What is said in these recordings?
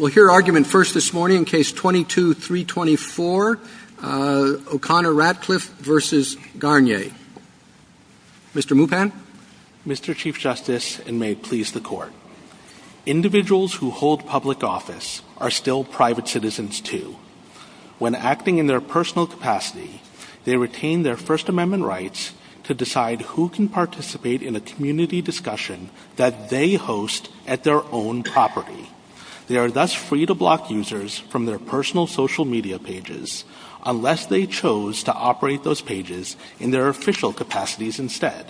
Mr. Chief Justice, and may it please the Court. Individuals who hold public office are still private citizens, too. When acting in their personal capacity, they retain their First Amendment rights to decide who can participate in a community discussion that they host at their own property. They are thus free to block users from their personal social media pages unless they chose to operate those pages in their official capacities instead.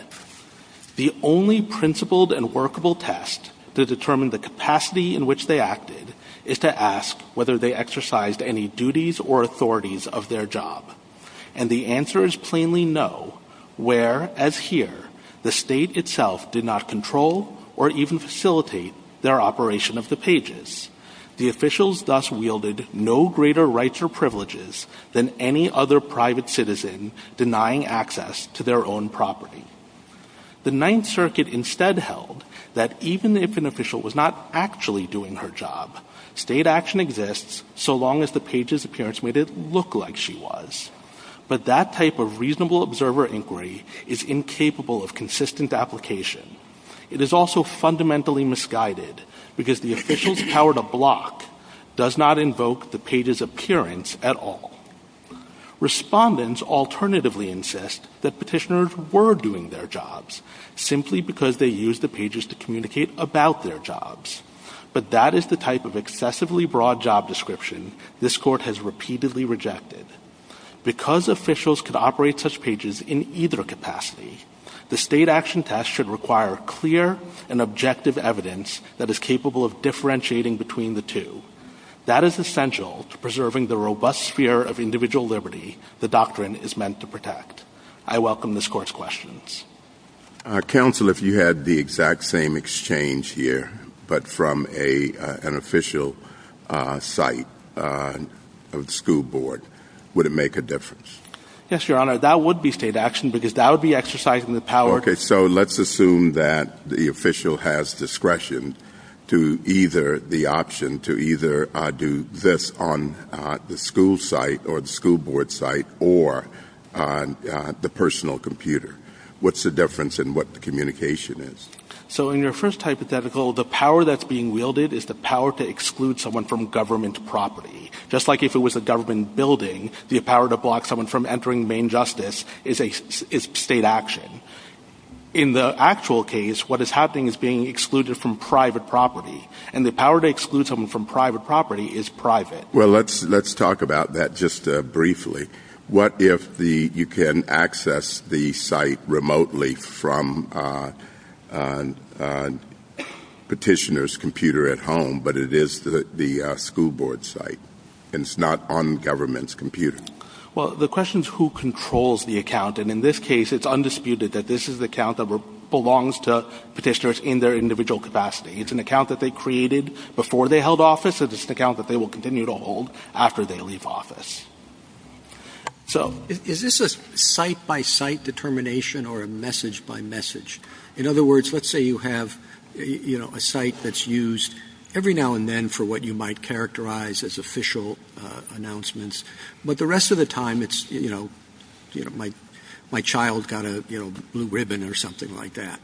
The only principled and workable test to determine the capacity in which they acted is to ask whether they exercised any duties or authorities of their job. And the answer is plainly no, where, as here, the state itself did not control or even facilitate their operation of the pages. The officials thus wielded no greater rights or privileges than any other private citizen denying access to their own property. The Ninth Circuit instead held that even if an official was not actually doing her job, state action exists so long as the page's appearance made it look like she was. But that type of reasonable observer inquiry is incapable of consistent application. It is also fundamentally misguided because the officials' power to block does not invoke the page's appearance at all. Respondents alternatively insist that petitioners were doing their jobs simply because they used the pages to communicate about their jobs. But that is the type of excessively broad job description this Court has repeatedly rejected. Because officials could operate such pages in either capacity, the state action test should require clear and objective evidence that is capable of differentiating between the two. That is essential to preserving the robust sphere of individual liberty the doctrine is meant to protect. I welcome this Court's questions. Counsel, if you had the exact same exchange here but from an official site of the school board, would it make a difference? Yes, Your Honor, that would be state action because that would be exercising the power Okay, so let's assume that the official has discretion to either the option to either do this on the school site or the school board site or on the personal computer. What's the difference in what the communication is? So in your first hypothetical, the power that's being wielded is the power to exclude someone from government property. Just like if it was a government building, the power to block someone from entering main justice is state action. In the actual case, what is happening is being excluded from private property. And the power to exclude someone from private property is private. Well, let's talk about that just briefly. What if you can access the site remotely from petitioner's computer at home but it is the school board site and it's not on government's computer? Well, the question is who controls the account and in this case it's undisputed that this is the account that belongs to petitioners in their individual capacity. It's an account that they created before they held office and it's an account that they will continue to hold after they leave office. So is this a site-by-site determination or a message-by-message? In other words, let's say you have a site that's used every now and then for what you might characterize as official announcements but the rest of the time it's, you know, my child got a blue ribbon or something like that.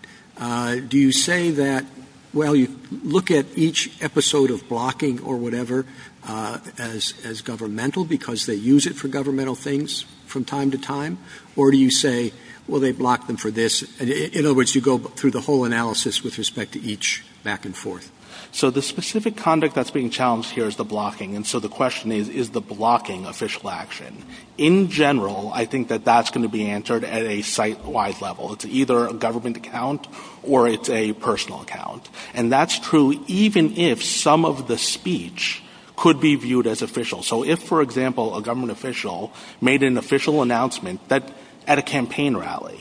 Do you say that, well, you look at each episode of blocking or whatever as governmental because they use it for governmental things from time to time or do you say, well, they blocked them for this? In other words, you go through the whole analysis with respect to each back and forth. So the specific conduct that's being challenged here is the blocking and so the question is, is the blocking official action? In general, I think that that's going to be answered at a site-wide level. It's either a government account or it's a personal account and that's true even if some of the speech could be viewed as official. So if, for example, a government official made an official announcement at a campaign rally,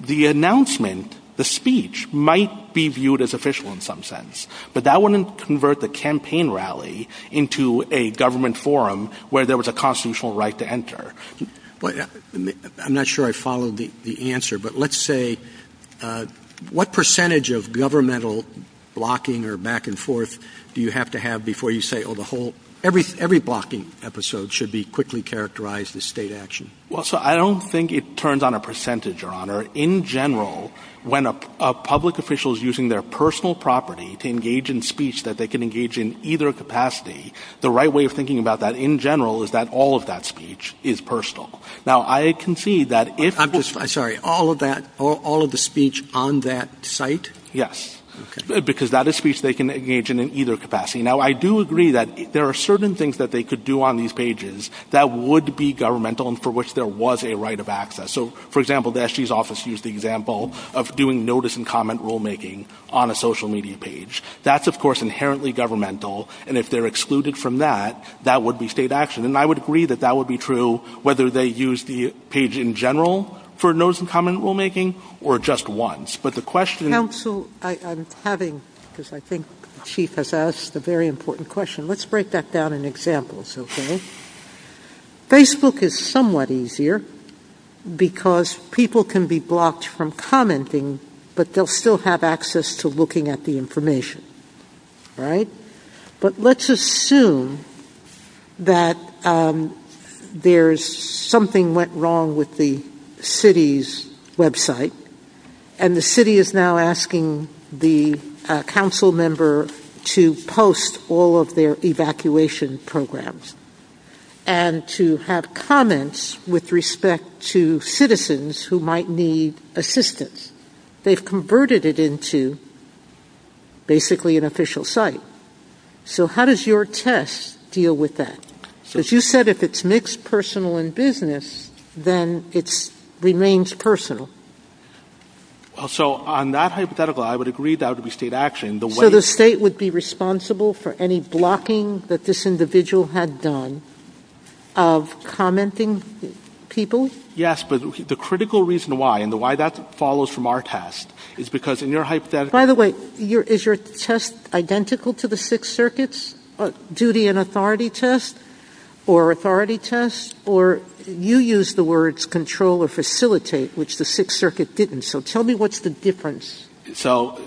the announcement, the speech might be viewed as official in some sense but that wouldn't convert the campaign rally into a government forum where there was a constitutional right to enter. I'm not sure I followed the answer but let's say, what percentage of governmental blocking or back and forth do you have to have before you say, oh, the whole, every blocking episode should be quickly characterized as state action? Well, so I don't think it turns on a percentage, Your Honor. In general, when a public official is using their personal property to engage in speech that they can engage in either capacity, the right way of thinking about that in general is that all of that speech is personal. Now, I concede that if... I'm sorry, all of that, all of the speech on that site? Yes, because that is speech they can engage in in either capacity. Now, I do agree that there are certain things that they could do on these pages that would be governmental and for which there was a right of access. So, for example, the SG's office used the example of doing notice and comment rulemaking on a social media page. That's, of course, inherently governmental and if they're excluded from that, that would be state action and I would agree that that would be true whether they use the page in general for notice and comment rulemaking or just once. But the question... Counsel, I'm having, because I think the Chief has asked a very important question. Let's break that down in examples, okay? Facebook is somewhat easier because people can be blocked from commenting but they'll still have access to looking at the information, right? Okay. But let's assume that there's something went wrong with the city's website and the city is now asking the council member to post all of their evacuation programs and to have comments with respect to citizens who might need assistance. They've converted it into basically an official site. So, how does your test deal with that? So, as you said, if it's mixed personal and business, then it remains personal. So, on that hypothetical, I would agree that would be state action. So, the state would be responsible for any blocking that this individual had done of commenting people? Yes, but the critical reason why and why that follows from our test is because in your hypothetical... By the way, is your test identical to the Sixth Circuit's duty and authority test or authority test? Or you used the words control or facilitate, which the Sixth Circuit didn't. So, tell me what's the difference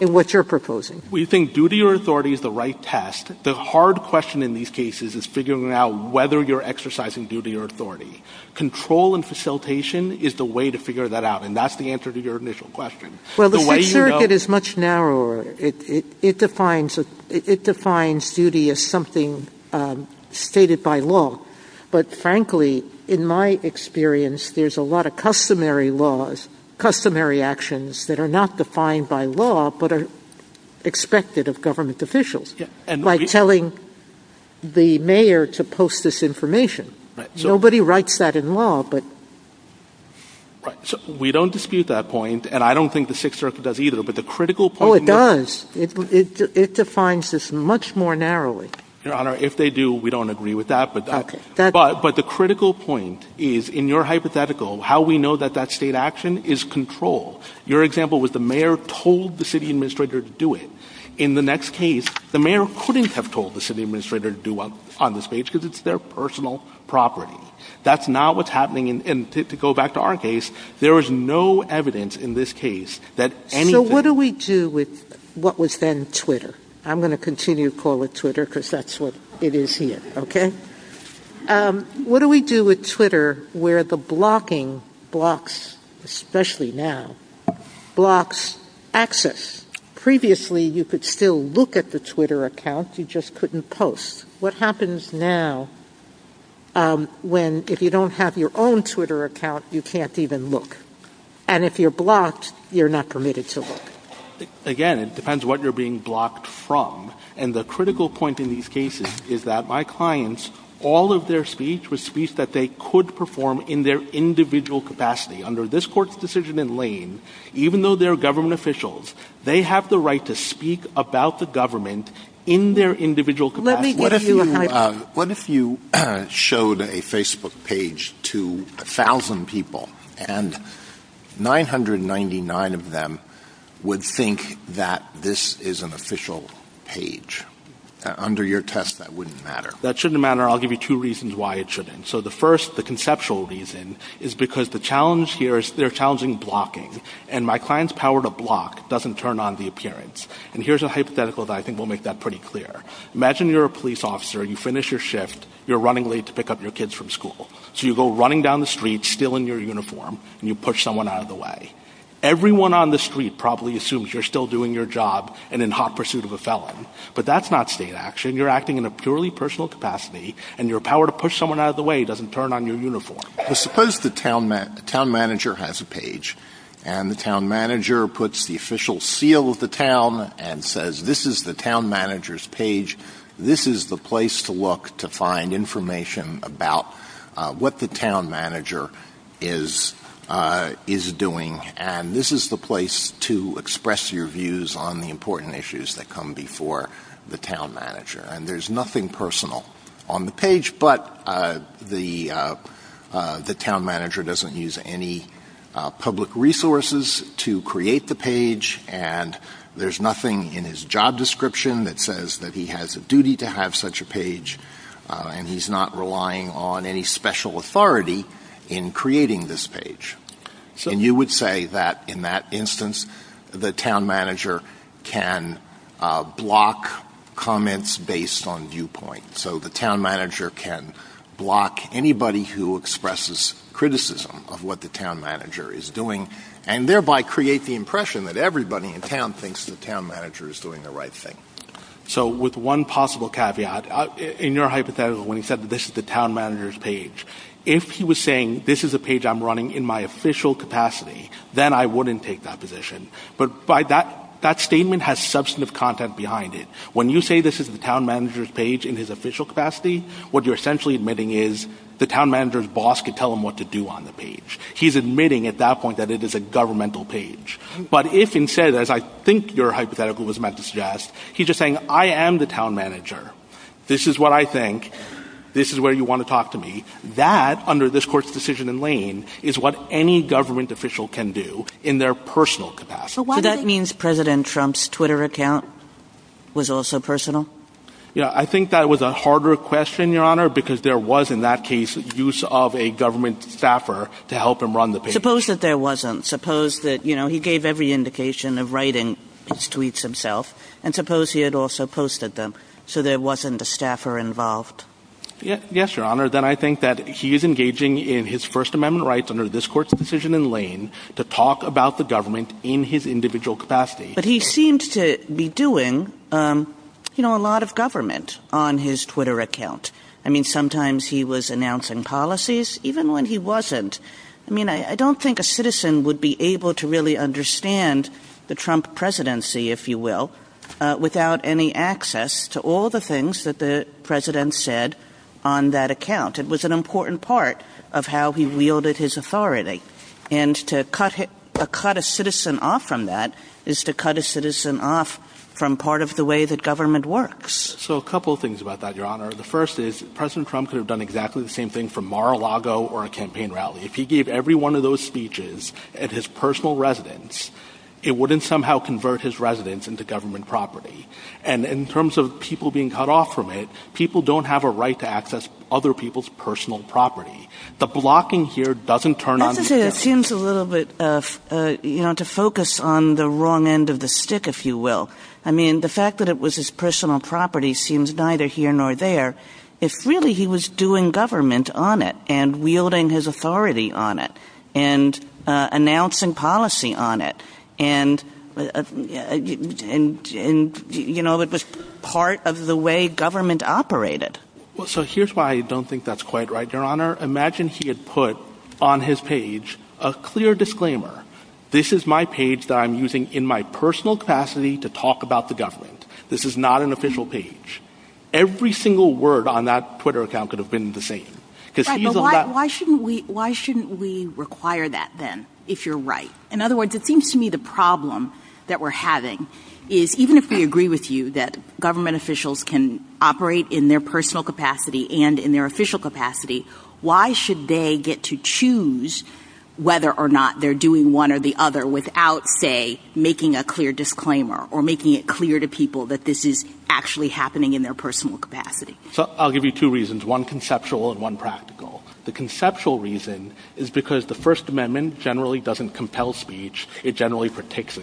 in what you're proposing. We think duty or authority is the right test. The hard question in these cases is figuring out whether you're exercising duty or authority. Control and facilitation is the way to figure that out and that's the answer to your initial question. Well, the Sixth Circuit is much narrower. It defines duty as something stated by law. But frankly, in my experience, there's a lot of customary laws, customary actions that are not defined by law but are expected of government officials. Like telling the mayor to post this information. Nobody writes that in law, but... We don't dispute that point and I don't think the Sixth Circuit does either, but the critical point... Oh, it does. It defines this much more narrowly. Your Honor, if they do, we don't agree with that, but the critical point is in your hypothetical, how we know that that state action is control. Your example was the mayor told the city administrator to do it. In the next case, the mayor couldn't have told the city administrator to do it on this page because it's their personal property. That's not what's happening and to go back to our case, there is no evidence in this case that anything... So, what do we do with what was then Twitter? I'm going to continue to call it Twitter because that's what it is here, okay? What do we do with Twitter where the blocking blocks, especially now, blocks access? Previously, you could still look at the Twitter account, you just couldn't post. What happens now when if you don't have your own Twitter account, you can't even look? And if you're blocked, you're not permitted to look. Again, it depends what you're being blocked from, and the critical point in these cases is that my clients, all of their speech was speech that they could perform in their individual capacity. Under this court's decision in Lane, even though they're government officials, they have the right to speak about the government in their individual capacity. What if you showed a Facebook page to a thousand people and 999 of them would think that this is an official page? Under your test, that wouldn't matter. That shouldn't matter. I'll give you two reasons why it shouldn't. So, the first, the conceptual reason, is because the challenge here is they're challenging blocking. And my client's power to block doesn't turn on the appearance. And here's a hypothetical that I think will make that pretty clear. Imagine you're a police officer, you finish your shift, you're running late to pick up your kids from school. So you go running down the street, still in your uniform, and you push someone out of the way. Everyone on the street probably assumes you're still doing your job and in hot pursuit of a felon, but that's not state action. You're acting in a purely personal capacity, and your power to push someone out of the way doesn't turn on your uniform. Suppose the town manager has a page. And the town manager puts the official seal of the town and says, this is the town manager's page. This is the place to look to find information about what the town manager is doing. And this is the place to express your views on the important issues that come before the town manager. And there's nothing personal on the page, but the town manager doesn't use any public resources to create the page. And there's nothing in his job description that says that he has a duty to have such a page. And he's not relying on any special authority in creating this page. And you would say that in that instance, the town manager can block comments based on viewpoint. So the town manager can block anybody who expresses criticism of what the town manager is doing, and thereby create the impression that everybody in town thinks the town manager is doing the right thing. So with one possible caveat, in your hypothetical, when you said this is the town manager's page, if he was saying this is the page I'm running in my official capacity, then I wouldn't take that position. But that statement has substantive content behind it. When you say this is the town manager's page in his official capacity, what you're essentially admitting is the town manager's boss can tell him what to do on the page. He's admitting at that point that it is a governmental page. But if instead, as I think your hypothetical was meant to suggest, he's just saying, I am the town manager. This is what I think. This is where you want to talk to me. That, under this Court's decision in Lane, is what any government official can do in their personal capacity. So that means President Trump's Twitter account was also personal? Yeah, I think that was a harder question, Your Honor, because there was in that case use of a government staffer to help him run the page. Suppose that there wasn't. Suppose that, you know, he gave every indication of writing his tweets himself. And suppose he had also posted them, so there wasn't a staffer involved. Yes, Your Honor, then I think that he's engaging in his First Amendment rights, under this Court's decision in Lane, to talk about the government in his individual capacity. But he seemed to be doing, you know, a lot of government on his Twitter account. I mean, sometimes he was announcing policies, even when he wasn't. I mean, I don't think a citizen would be able to really understand the Trump presidency, if you will, without any access to all the things that the President said on that account. It was an important part of how he wielded his authority. And to cut a citizen off from that is to cut a citizen off from part of the way that government works. So a couple of things about that, Your Honor. The first is, President Trump could have done exactly the same thing from Mar-a-Lago or a campaign rally. If he gave every one of those speeches at his personal residence, it wouldn't somehow convert his residence into government property. And in terms of people being cut off from it, people don't have a right to access other people's personal property. The blocking here doesn't turn on these people. I have to say, it seems a little bit, you know, to focus on the wrong end of the stick, if you will. I mean, the fact that it was his personal property seems neither here nor there. If really he was doing government on it, and wielding his authority on it, and announcing policy on it, and, you know, it was part of the way government operated. So here's why I don't think that's quite right, Your Honor. Imagine he had put on his page a clear disclaimer. This is my page that I'm using in my personal capacity to talk about the government. This is not an official page. Every single word on that Twitter account could have been the same. Why shouldn't we require that then, if you're right? In other words, it seems to me the problem that we're having is, even if we agree with you that government officials can operate in their personal capacity and in their official capacity, why should they get to choose whether or not they're doing one or the other without, say, making a clear disclaimer, or making it clear to people that this is actually happening in their personal capacity? I'll give you two reasons, one conceptual and one practical. The conceptual reason is because the First Amendment generally doesn't compel speech. It generally protects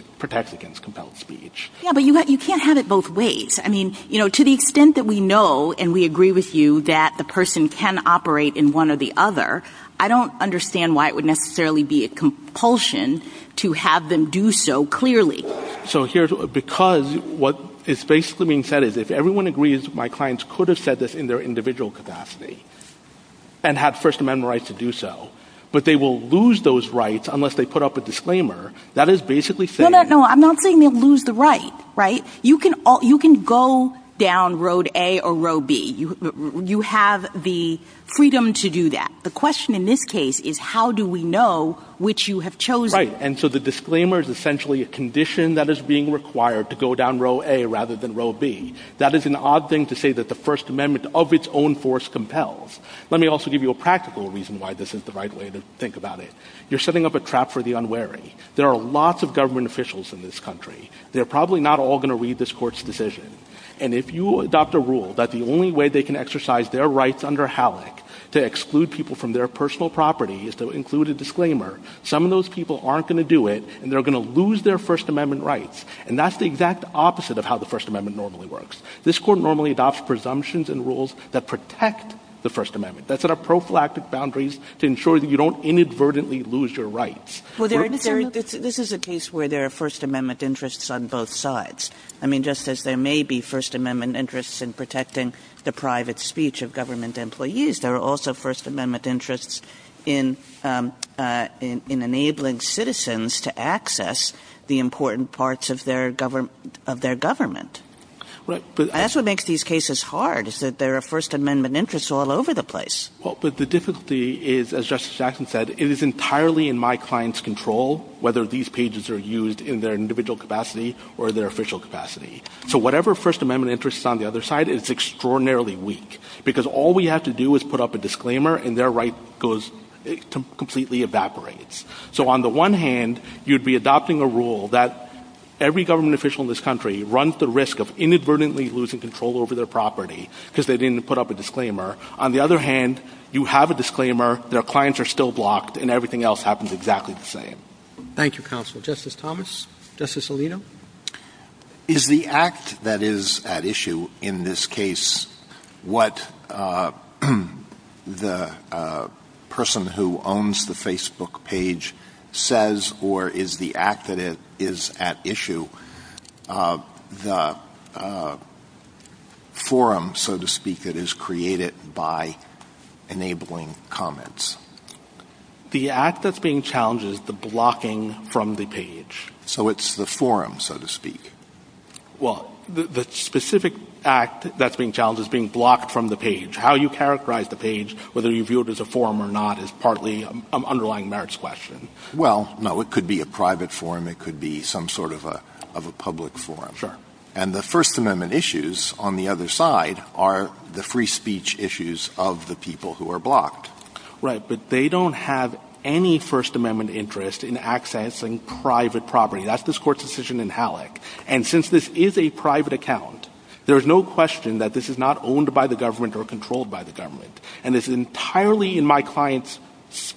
against compelled speech. Yeah, but you can't have it both ways. I mean, you know, to the extent that we know and we agree with you that the person can operate in one or the other, I don't understand why it would necessarily be a compulsion to have them do so clearly. Because what is basically being said is, if everyone agrees my clients could have said this in their individual capacity and had First Amendment rights to do so, but they will lose those rights unless they put up a disclaimer. No, no, no, I'm not saying they'll lose the right. You can go down Road A or Road B. You have the freedom to do that. The question in this case is, how do we know which you have chosen? Right, and so the disclaimer is essentially a condition that is being required to go down Road A rather than Road B. That is an odd thing to say that the First Amendment of its own force compels. Let me also give you a practical reason why this isn't the right way to think about it. You're setting up a trap for the unwary. There are lots of government officials in this country. They're probably not all going to read this court's decision. And if you adopt a rule that the only way they can exercise their rights under HALAC to exclude people from their personal property is to include a disclaimer, some of those people aren't going to do it, and they're going to lose their First Amendment rights. And that's the exact opposite of how the First Amendment normally works. This court normally adopts presumptions and rules that protect the First Amendment, that set up prophylactic boundaries to ensure that you don't inadvertently lose your rights. This is a case where there are First Amendment interests on both sides. I mean, just as there may be First Amendment interests in protecting the private speech of government employees, there are also First Amendment interests in enabling citizens to access the important parts of their government. That's what makes these cases hard is that there are First Amendment interests all over the place. But the difficulty is, as Justice Jackson said, it is entirely in my client's control whether these pages are used in their individual capacity or their official capacity. So whatever First Amendment interest is on the other side, it's extraordinarily weak because all we have to do is put up a disclaimer and their right completely evaporates. So on the one hand, you'd be adopting a rule that every government official in this country runs the risk of inadvertently losing control over their property because they didn't put up a disclaimer. On the other hand, you have a disclaimer, their clients are still blocked, and everything else happens exactly the same. Thank you, counsel. Justice Thomas? Justice Alito? Is the act that is at issue in this case what the person who owns the Facebook page says or is the act that is at issue the forum, so to speak, that is created by enabling comments? The act that's being challenged is the blocking from the page. So it's the forum, so to speak. Well, the specific act that's being challenged is being blocked from the page. How you characterize the page, whether you view it as a forum or not, is partly an underlying merits question. Well, no, it could be a private forum, it could be some sort of a public forum. And the First Amendment issues on the other side are the free speech issues of the people who are blocked. Right, but they don't have any First Amendment interest in accessing private property. That's this Court's decision in Halleck. And since this is a private account, there's no question that this is not owned by the government or controlled by the government. And it's entirely in my client's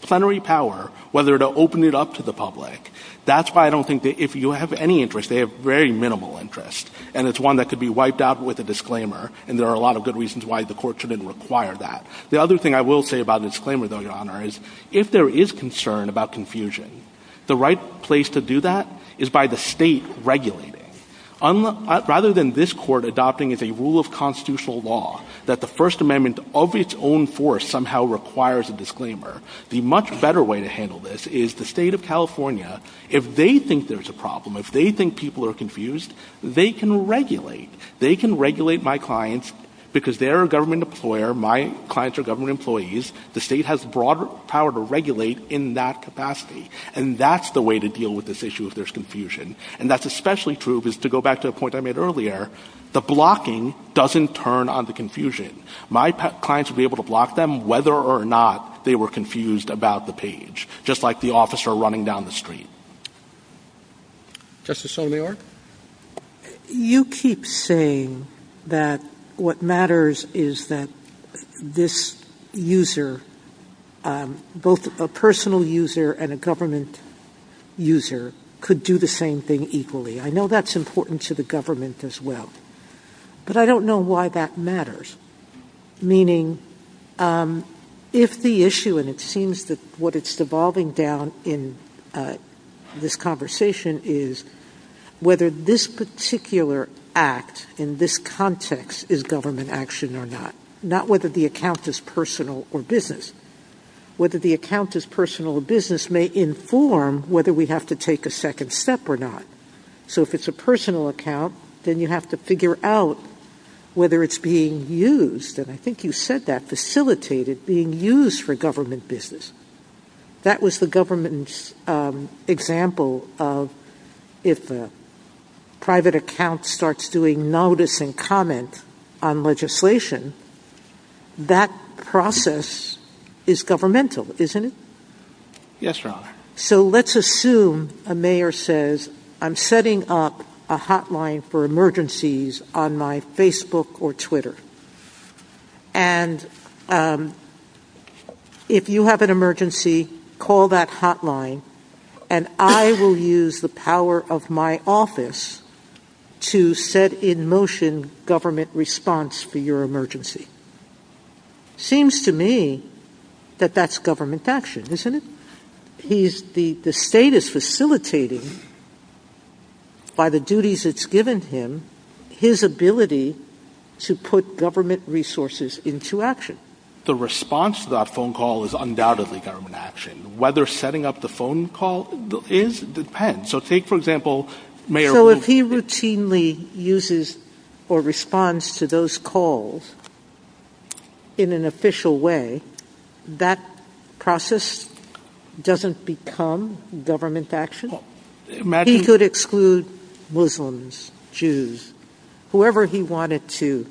plenary power whether to open it up to the public. That's why I don't think that if you have any interest, they have very minimal interest. And it's one that could be wiped out with a disclaimer, and there are a lot of good reasons why the Court shouldn't require that. The other thing I will say about a disclaimer, though, Your Honor, is if there is concern about confusion, the right place to do that is by the State regulating it. Rather than this Court adopting as a rule of constitutional law that the First Amendment of its own force somehow requires a disclaimer, the much better way to handle this is the State of California, if they think there's a problem, if they think people are confused, they can regulate. They can regulate my clients because they're a government employer, my clients are government employees, the State has broader power to regulate in that capacity. And that's the way to deal with this issue if there's confusion. And that's especially true, to go back to the point I made earlier, the blocking doesn't turn on the confusion. My clients will be able to block them whether or not they were confused about the page, just like the officer running down the street. Justice Sotomayor? You keep saying that what matters is that this user, both a personal user and a government user, could do the same thing equally. I know that's important to the government as well. But I don't know why that matters. Meaning, if the issue, and it seems that what it's devolving down in this conversation, is whether this particular act in this context is government action or not, not whether the account is personal or business. Whether the account is personal or business may inform whether we have to take a second step or not. So if it's a personal account, then you have to figure out whether it's being used, and I think you said that, facilitated, being used for government business. That was the government's example of if the private account starts doing notice and comment on legislation, that process is governmental, isn't it? Yes, Your Honor. So let's assume a mayor says, I'm setting up a hotline for emergencies on my Facebook or Twitter. And if you have an emergency, call that hotline, and I will use the power of my office to set in motion government response for your emergency. Seems to me that that's government action, isn't it? The state is facilitating, by the duties it's given him, his ability to put government resources into action. The response to that phone call is undoubtedly government action. Whether setting up the phone call is, depends. So take, for example, mayor... So if he routinely uses or responds to those calls in an official way, that process doesn't become government action? He could exclude Muslims, Jews, whoever he wanted to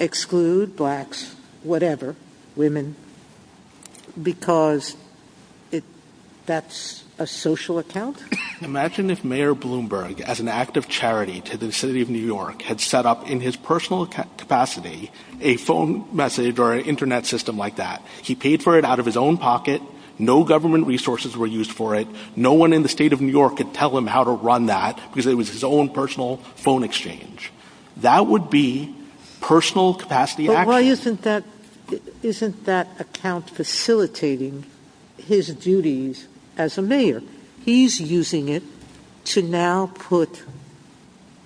exclude, blacks, whatever, women, because that's a social account? Imagine if Mayor Bloomberg, as an act of charity to the city of New York, had set up in his personal capacity a phone message or an Internet system like that. He paid for it out of his own pocket. No government resources were used for it. No one in the state of New York could tell him how to run that, because it was his own personal phone exchange. That would be personal capacity action. But why isn't that account facilitating his duties as a mayor? He's using it to now put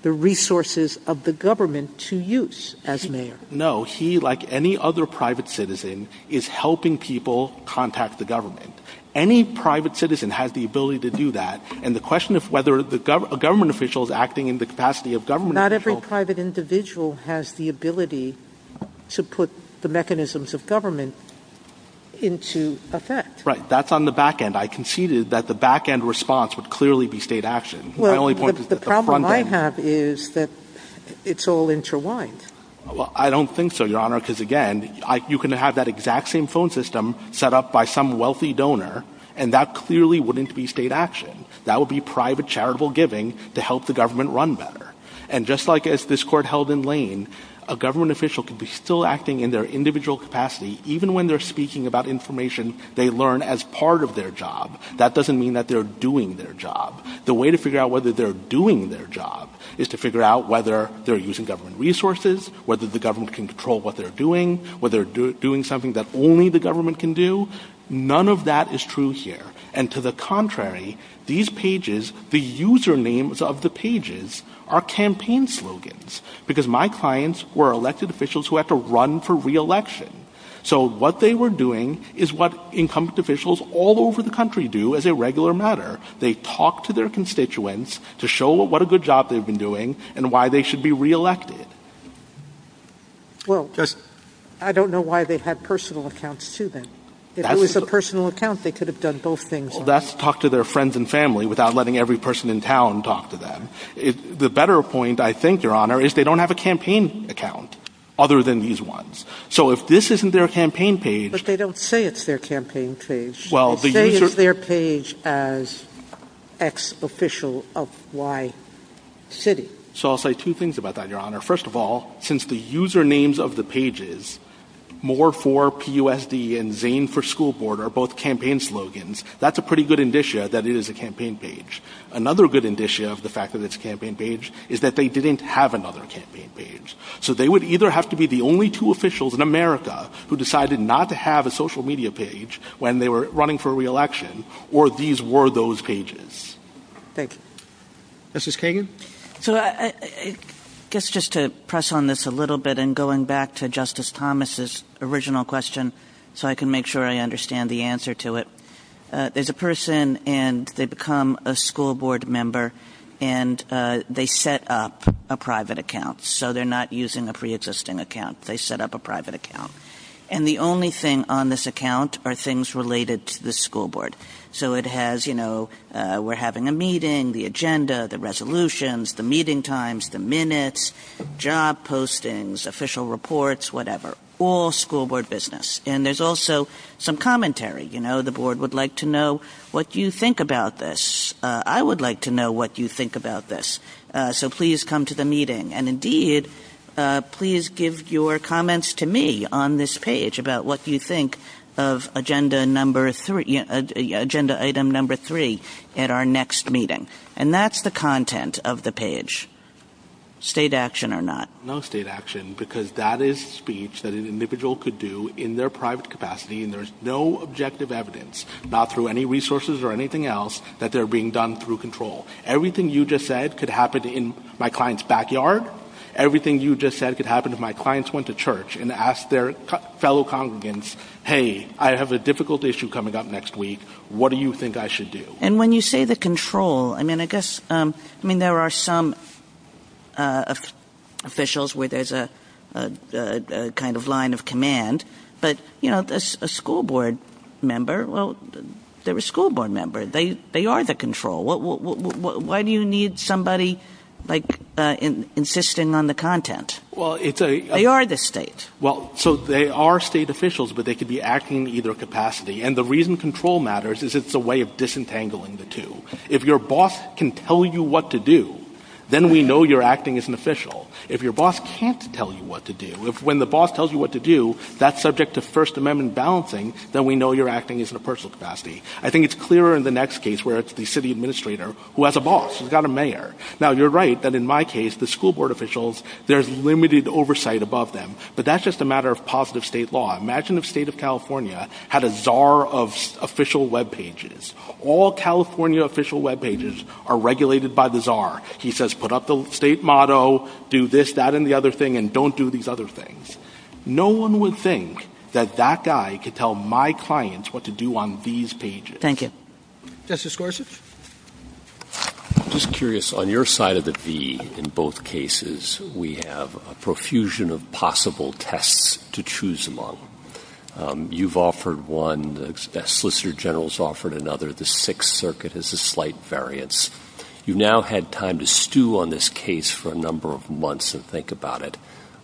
the resources of the government to use as mayor. No, he, like any other private citizen, is helping people contact the government. Any private citizen has the ability to do that. And the question of whether a government official is acting in the capacity of government officials... Not every private individual has the ability to put the mechanisms of government into effect. Right, that's on the back end. I conceded that the back end response would clearly be state action. The problem I have is that it's all interwined. I don't think so, Your Honor, because, again, you can have that exact same phone system set up by some wealthy donor, and that clearly wouldn't be state action. That would be private charitable giving to help the government run better. And just like this court held in Lane, a government official could be still acting in their individual capacity, even when they're speaking about information they learn as part of their job. That doesn't mean that they're doing their job. The way to figure out whether they're doing their job is to figure out whether they're using government resources, whether the government can control what they're doing, whether they're doing something that only the government can do. None of that is true here. And to the contrary, these pages, the usernames of the pages are campaign slogans, because my clients were elected officials who had to run for re-election. So what they were doing is what incumbent officials all over the country do as a regular matter. They talk to their constituents to show what a good job they've been doing and why they should be re-elected. Well, I don't know why they had personal accounts, too, then. If it was a personal account, they could have done both things. That's talk to their friends and family without letting every person in town talk to them. The better point, I think, Your Honor, is they don't have a campaign account other than these ones. So if this isn't their campaign page... But they don't say it's their campaign page. Well, the user... They say it's their page as X official of Y city. So I'll say two things about that, Your Honor. First of all, since the usernames of the pages, more for PUSD and Zane for school board are both campaign slogans, that's a pretty good indicia that it is a campaign page. Another good indicia of the fact that it's a campaign page is that they didn't have another campaign page. So they would either have to be the only two officials in America who decided not to have a social media page when they were running for re-election or these were those pages. Thank you. Justice Kagan? So I guess just to press on this a little bit and going back to Justice Thomas's original question so I can make sure I understand the answer to it. There's a person and they become a school board member and they set up a private account. So they're not using a pre-existing account. They set up a private account. And the only thing on this account are things related to the school board. So it has, you know, we're having a meeting, the agenda, the resolutions, the meeting times, the minutes, job postings, official reports, whatever, all school board business. And there's also some commentary. You know, the board would like to know what you think about this. I would like to know what you think about this. So please come to the meeting. And indeed, please give your comments to me on this page about what you think of agenda item number three at our next meeting. And that's the content of the page, state action or not. No state action because that is speech that an individual could do in their private capacity and there's no objective evidence, not through any resources or anything else, that they're being done through control. Everything you just said could happen in my client's backyard. Everything you just said could happen if my clients went to church and asked their fellow congregants, hey, I have a difficult issue coming up next week. What do you think I should do? And when you say the control, I mean, I guess, I mean, there are some officials where there's a kind of line of command. But, you know, a school board member, well, they're a school board member. They are the control. Why do you need somebody, like, insisting on the content? They are the state. Well, so they are state officials, but they could be acting in either capacity. And the reason control matters is it's a way of disentangling the two. If your boss can tell you what to do, then we know you're acting as an official. If your boss can't tell you what to do, when the boss tells you what to do, that's subject to First Amendment balancing, then we know you're acting as in a personal capacity. I think it's clearer in the next case where it's the city administrator who has a boss, who's got a mayor. Now, you're right that in my case, the school board officials, there's limited oversight above them. But that's just a matter of positive state law. Imagine if the state of California had a czar of official webpages. All California official webpages are regulated by the czar. He says put up the state motto, do this, that, and the other thing, and don't do these other things. No one would think that that guy could tell my clients what to do on these pages. Thank you. Justice Gorsuch? I'm just curious. On your side of the fee, in both cases, we have a profusion of possible tests to choose among. You've offered one. The Solicitor General's offered another. The Sixth Circuit is a slight variance. You've now had time to stew on this case for a number of months and think about it.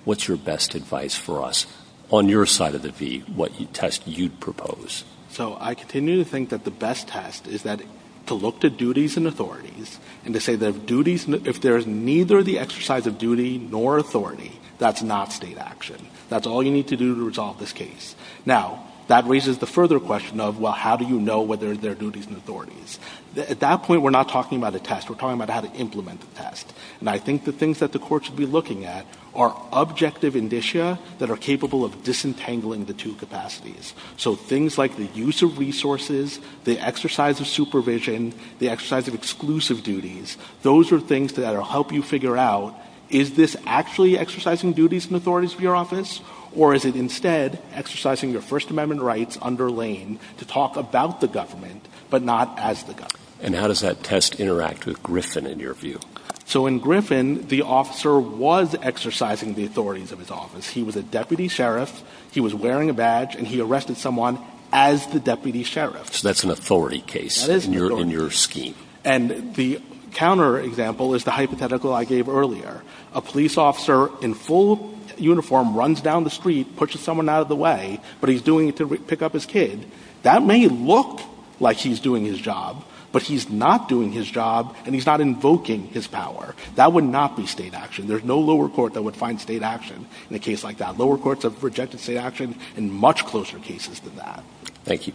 What's your best advice for us on your side of the fee, what test you'd propose? So I continue to think that the best test is to look to duties and authorities and to say that duties, if there is neither the exercise of duty nor authority, that's not state action. That's all you need to do to resolve this case. Now, that raises the further question of, well, how do you know whether there are duties and authorities? At that point, we're not talking about a test. We're talking about how to implement the test. And I think the things that the court should be looking at are objective indicia that are capable of disentangling the two capacities. So things like the use of resources, the exercise of supervision, the exercise of exclusive duties, those are things that will help you figure out, is this actually exercising duties and authorities of your office, or is it instead exercising your First Amendment rights under Lane to talk about the government but not as the government? And how does that test interact with Griffin, in your view? So in Griffin, the officer was exercising the authorities of his office. He was a deputy sheriff, he was wearing a badge, and he arrested someone as the deputy sheriff. So that's an authority case in your scheme. And the counter example is the hypothetical I gave earlier. A police officer in full uniform runs down the street, pushes someone out of the way, but he's doing it to pick up his kid. That may look like he's doing his job, but he's not doing his job, and he's not invoking his power. That would not be state action. There's no lower court that would find state action in a case like that. Lower courts have rejected state action in much closer cases than that. Thank you.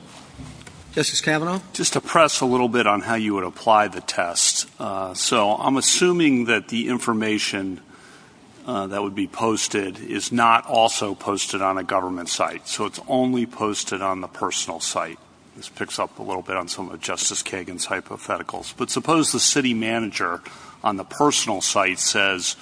Justice Kavanaugh? Just to press a little bit on how you would apply the test. So I'm assuming that the information that would be posted is not also posted on a government site. So it's only posted on the personal site. This picks up a little bit on some of Justice Kagan's hypotheticals. But suppose the city manager on the personal site says,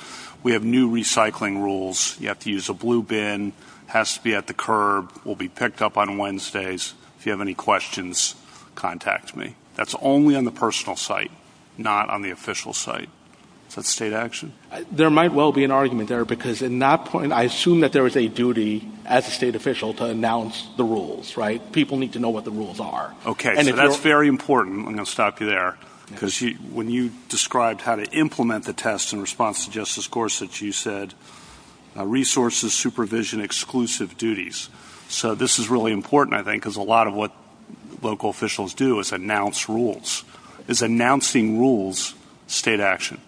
we have new recycling rules. You have to use a blue bin. It has to be at the curb. It will be picked up on Wednesdays. If you have any questions, contact me. That's only on the personal site, not on the official site. Is that state action? There might well be an argument there, because in that point, I assume that there is a duty as a state official to announce the rules, right? People need to know what the rules are. Okay. So that's very important. I'm going to stop you there. Because when you described how to implement the test in response to Justice Gorsuch, you said resources, supervision, exclusive duties. So this is really important, I think, because a lot of what local officials do is announce rules. Is announcing rules state action?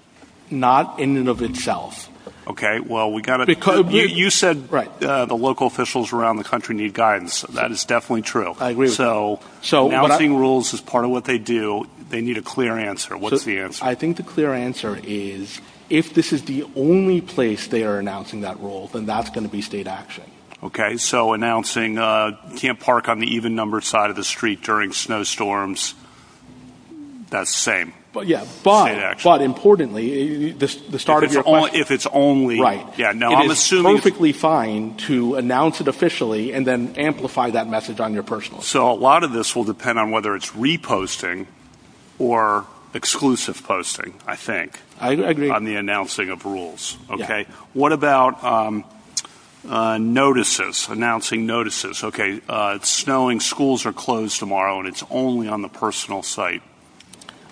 Not in and of itself. Okay. Well, you said the local officials around the country need guidance. That is definitely true. I agree. So announcing rules is part of what they do. They need a clear answer. What's the answer? I think the clear answer is if this is the only place they are announcing that rule, then that's going to be state action. Okay. So announcing you can't park on the even-numbered side of the street during snowstorms, that's state action. Yeah. But importantly, the start of your question. If it's only. Right. It's perfectly fine to announce it officially and then amplify that message on your personal. So a lot of this will depend on whether it's reposting or exclusive posting, I think, on the announcing of rules. Yeah. Okay. So what about notices, announcing notices? Okay. Snowing schools are closed tomorrow, and it's only on the personal site.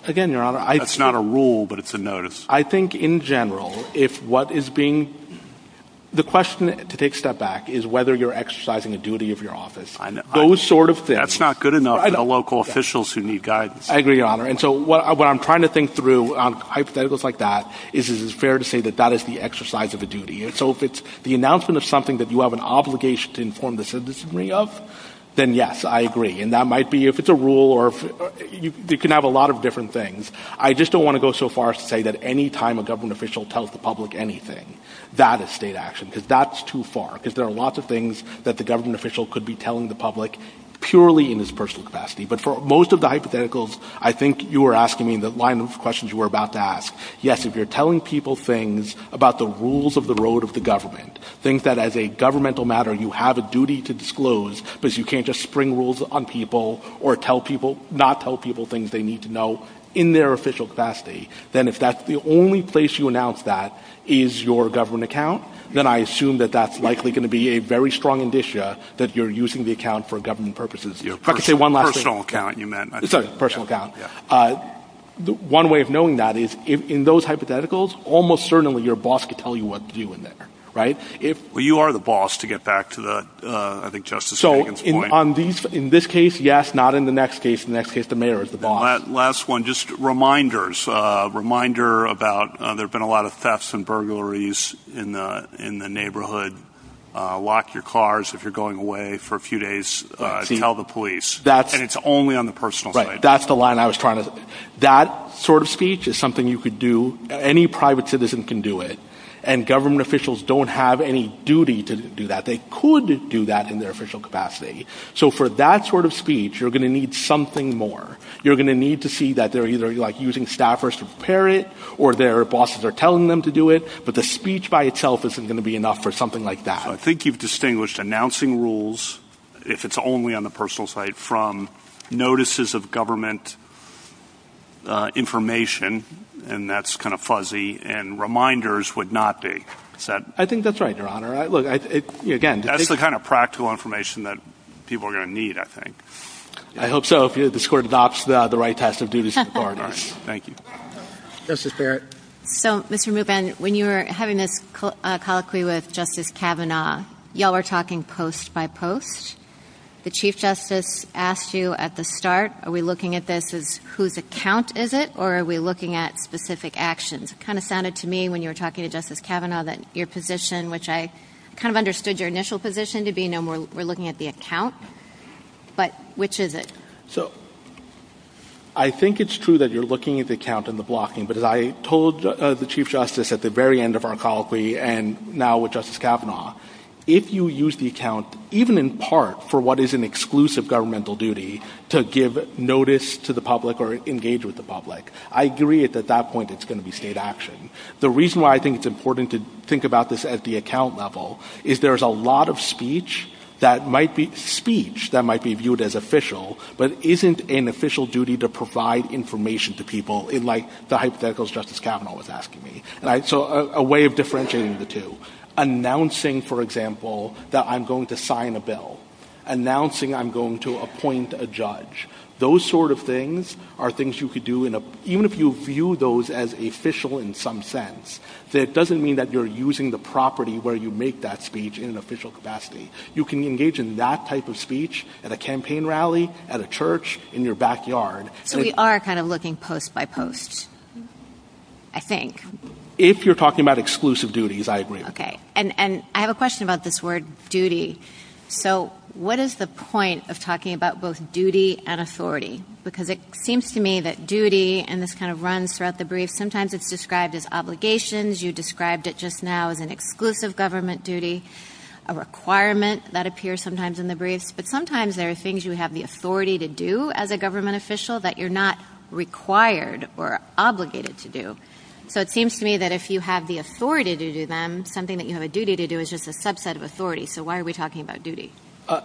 Again, Your Honor. That's not a rule, but it's a notice. I think, in general, if what is being... The question, to take a step back, is whether you're exercising the duty of your office. I know. Those sort of things. That's not good enough for the local officials who need guidance. I agree, Your Honor. And so what I'm trying to think through on hypotheticals like that is it's fair to say that that is the exercise of the duty. And so if it's the announcement of something that you have an obligation to inform the citizenry of, then yes, I agree. And that might be if it's a rule or... It can have a lot of different things. I just don't want to go so far as to say that any time a government official tells the public anything, that is state action, because that's too far. Because there are lots of things that the government official could be telling the public purely in his personal capacity. But for most of the hypotheticals, I think you were asking in the alignment of questions you were about to ask, yes, if you're telling people things about the rules of the road of the government, things that as a governmental matter you have a duty to disclose because you can't just spring rules on people or not tell people things they need to know in their official capacity, then if that's the only place you announce that is your government account, then I assume that that's likely going to be a very strong indicia that you're using the account for government purposes. If I could say one last thing... Personal account, you meant... Sorry, personal account. One way of knowing that is in those hypotheticals, almost certainly your boss could tell you what to do in there, right? Well, you are the boss, to get back to the, I think, justice-making point. So in this case, yes, not in the next case. In the next case, the mayor is the boss. Last one, just reminders. A reminder about there have been a lot of thefts and burglaries in the neighborhood. Lock your cars if you're going away for a few days. Tell the police. And it's only on the personal side. Right, that's the line I was trying to... That sort of speech is something you could do. Any private citizen can do it. And government officials don't have any duty to do that. They could do that in their official capacity. So for that sort of speech, you're going to need something more. You're going to need to see that they're either using staffers to prepare it or their bosses are telling them to do it, but the speech by itself isn't going to be enough for something like that. I think you've distinguished announcing rules, if it's only on the personal side, from notices of government information, and that's kind of fuzzy, and reminders would not be. I think that's right, Your Honor. Again... That's the kind of practical information that people are going to need, I think. I hope so, if this Court adopts the right types of duties for foreigners. Thank you. Justice Barrett. So, Mr. Rubin, when you were having this colloquy with Justice Kavanaugh, you all were talking post by post. The Chief Justice asked you at the start, are we looking at this as whose account is it, or are we looking at specific actions? It kind of sounded to me, when you were talking to Justice Kavanaugh, that your position, which I kind of understood your initial position to be, we're looking at the account, but which is it? So, I think it's true that you're looking at the account and the blocking, but as I told the Chief Justice at the very end of our colloquy, and now with Justice Kavanaugh, if you use the account, even in part, for what is an exclusive governmental duty, to give notice to the public or engage with the public, I agree that at that point it's going to be state action. The reason why I think it's important to think about this at the account level, is there's a lot of speech that might be viewed as official, but isn't an official duty to provide information to people, like the hypotheticals Justice Kavanaugh was asking me. So, a way of differentiating the two. Announcing, for example, that I'm going to sign a bill. Announcing I'm going to appoint a judge. Those sort of things are things you could do, even if you view those as official in some sense, that doesn't mean that you're using the property where you make that speech in an official capacity. You can engage in that type of speech at a campaign rally, at a church, in your backyard. So, we are kind of looking post by post, I think. If you're talking about exclusive duties, I agree. Okay, and I have a question about this word duty. So, what is the point of talking about both duty and authority? Because it seems to me that duty, and this kind of runs throughout the brief, sometimes it's described as obligations, you described it just now as an exclusive government duty, a requirement that appears sometimes in the brief, but sometimes there are things you have the authority to do as a government official that you're not required or obligated to do. So, it seems to me that if you have the authority to do them, something that you have a duty to do is just a subset of authority. So, why are we talking about duty?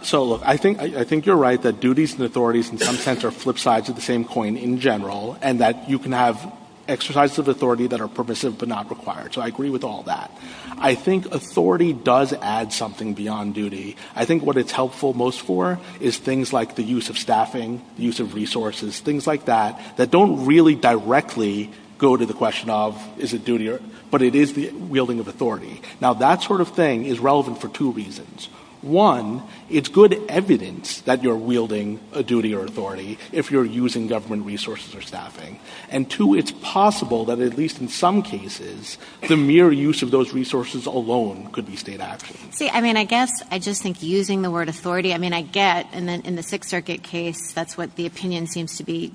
So, look, I think you're right that duties and authorities in some sense are flip sides of the same coin in general, and that you can have exercises of authority that are permissive but not required. So, I agree with all that. I think authority does add something beyond duty. I think what it's helpful most for is things like the use of staffing, use of resources, things like that that don't really directly go to the question of is it duty, but it is the wielding of authority. Now, that sort of thing is relevant for two reasons. One, it's good evidence that you're wielding a duty or authority if you're using government resources or staffing. And two, it's possible that at least in some cases, the mere use of those resources alone could be state action. See, I mean, I guess I just think using the word authority, I mean, I get. In the Sixth Circuit case, that's what the opinion seems to be.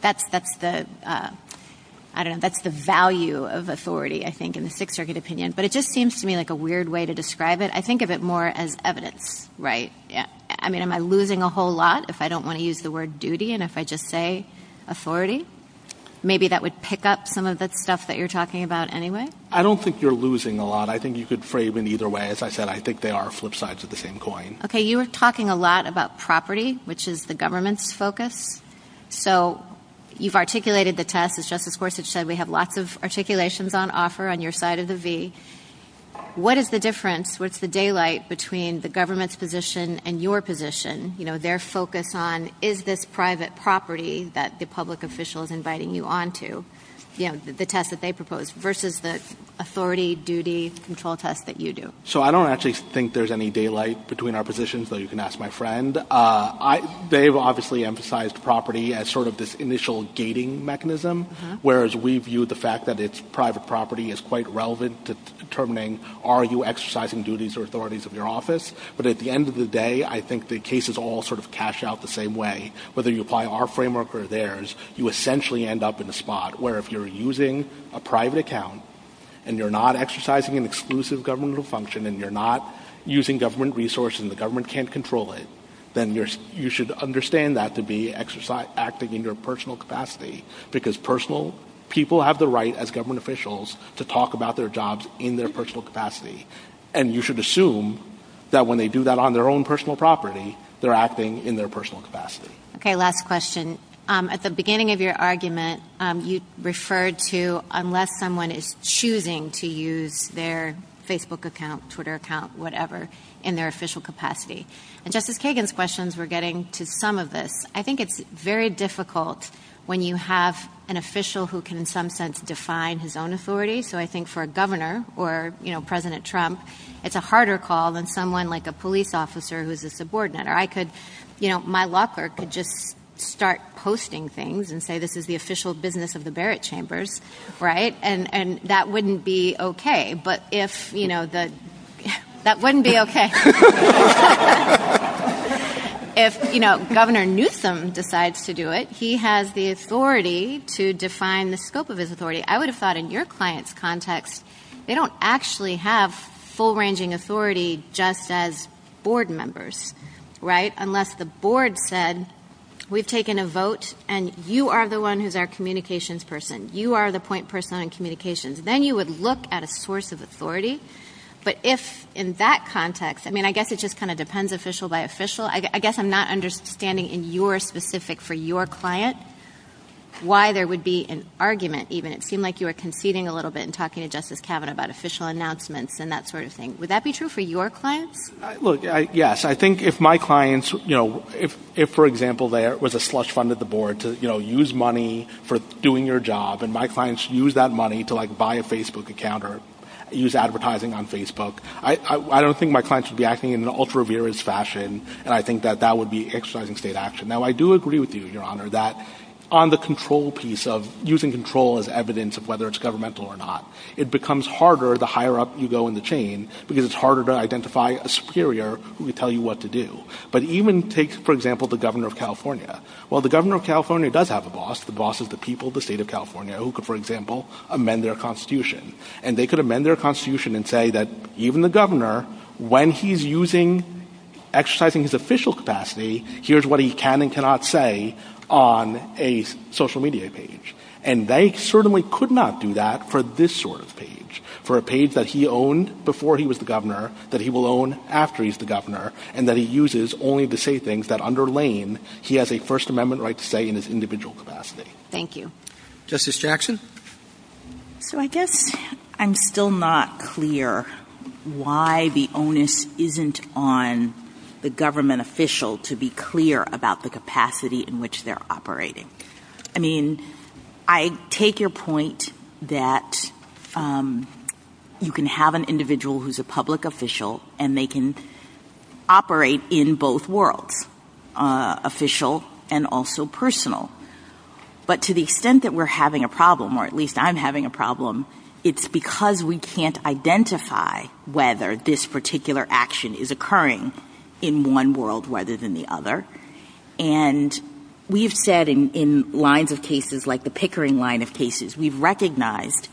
That's the value of authority, I think, in the Sixth Circuit opinion. But it just seems to me like a weird way to describe it. I think of it more as evidence. Right. I mean, am I losing a whole lot if I don't want to use the word duty and if I just say authority? Maybe that would pick up some of the stuff that you're talking about anyway. I don't think you're losing a lot. I think you could frame it either way. As I said, I think they are flip sides of the same coin. Okay. You were talking a lot about property, which is the government's focus. So you've articulated the test, as Justice Gorsuch said. We have lots of articulations on offer on your side of the V. What is the difference? What's the daylight between the government's position and your position? You know, their focus on is this private property that the public official is inviting you on to? You know, the test that they propose versus the authority, duty, control test that you do. So I don't actually think there's any daylight between our positions, though you can ask my friend. They've obviously emphasized property as sort of this initial gating mechanism, whereas we view the fact that it's private property as quite relevant to determining, are you exercising duties or authorities of your office? But at the end of the day, I think the cases all sort of cash out the same way. Whether you apply our framework or theirs, you essentially end up in a spot where if you're using a private account and you're not exercising an exclusive governmental function and you're not using government resources and the government can't control it, then you should understand that to be acting in your personal capacity because people have the right as government officials to talk about their jobs in their personal capacity. And you should assume that when they do that on their own personal property, they're acting in their personal capacity. Okay, last question. At the beginning of your argument, you referred to unless someone is choosing to use their Facebook account, Twitter account, whatever, in their official capacity. In Justice Kagan's questions, we're getting to some of this. I think it's very difficult when you have an official who can in some sense define his own authority. So I think for a governor or, you know, President Trump, it's a harder call than someone like a police officer who's a subordinate. Or I could, you know, my law clerk could just start posting things and say this is the official business of the Barrett Chambers, right? And that wouldn't be okay. But if, you know, that wouldn't be okay. If, you know, Governor Newsom decides to do it, he has the authority to define the scope of his authority. I would have thought in your client's context, they don't actually have full ranging authority just as board members, right? Unless the board said we've taken a vote and you are the one who's our communications person. You are the point person on communications. Then you would look at a source of authority. But if in that context, I mean, I guess it just kind of depends official by official. I guess I'm not understanding in your specific for your client why there would be an argument even. It seemed like you were conceding a little bit in talking to Justice Kavanaugh about official announcements and that sort of thing. Would that be true for your client? Look, yes. I think if my clients, you know, if for example there was a slush fund at the board to, you know, use money for doing your job and my clients use that money to like buy a Facebook account or use advertising on Facebook, I don't think my clients would be acting in an ultra-reverious fashion. And I think that that would be exercising state action. Now, I do agree with you, Your Honor, that on the control piece of using control as evidence of whether it's governmental or not, it becomes harder the higher up you go in the chain because it's harder to identify a superior who can tell you what to do. But even take, for example, the governor of California. While the governor of California does have a boss, the boss is the people of the state of California who could, for example, amend their constitution. And they could amend their constitution and say that even the governor, when he's exercising his official capacity, here's what he can and cannot say on a social media page. And they certainly could not do that for this sort of page, for a page that he owned before he was the governor that he will own after he's the governor and that he uses only to say things that underlain he has a First Amendment right to say in his individual capacity. Thank you. Justice Jackson? So I guess I'm still not clear why the onus isn't on the government official to be clear about the capacity in which they're operating. I mean, I take your point that you can have an individual who's a public official and they can operate in both worlds, official and also personal. But to the extent that we're having a problem, or at least I'm having a problem, it's because we can't identify whether this particular action is occurring in one world rather than the other. And we've said in lines of cases like the Pickering line of cases, we've recognized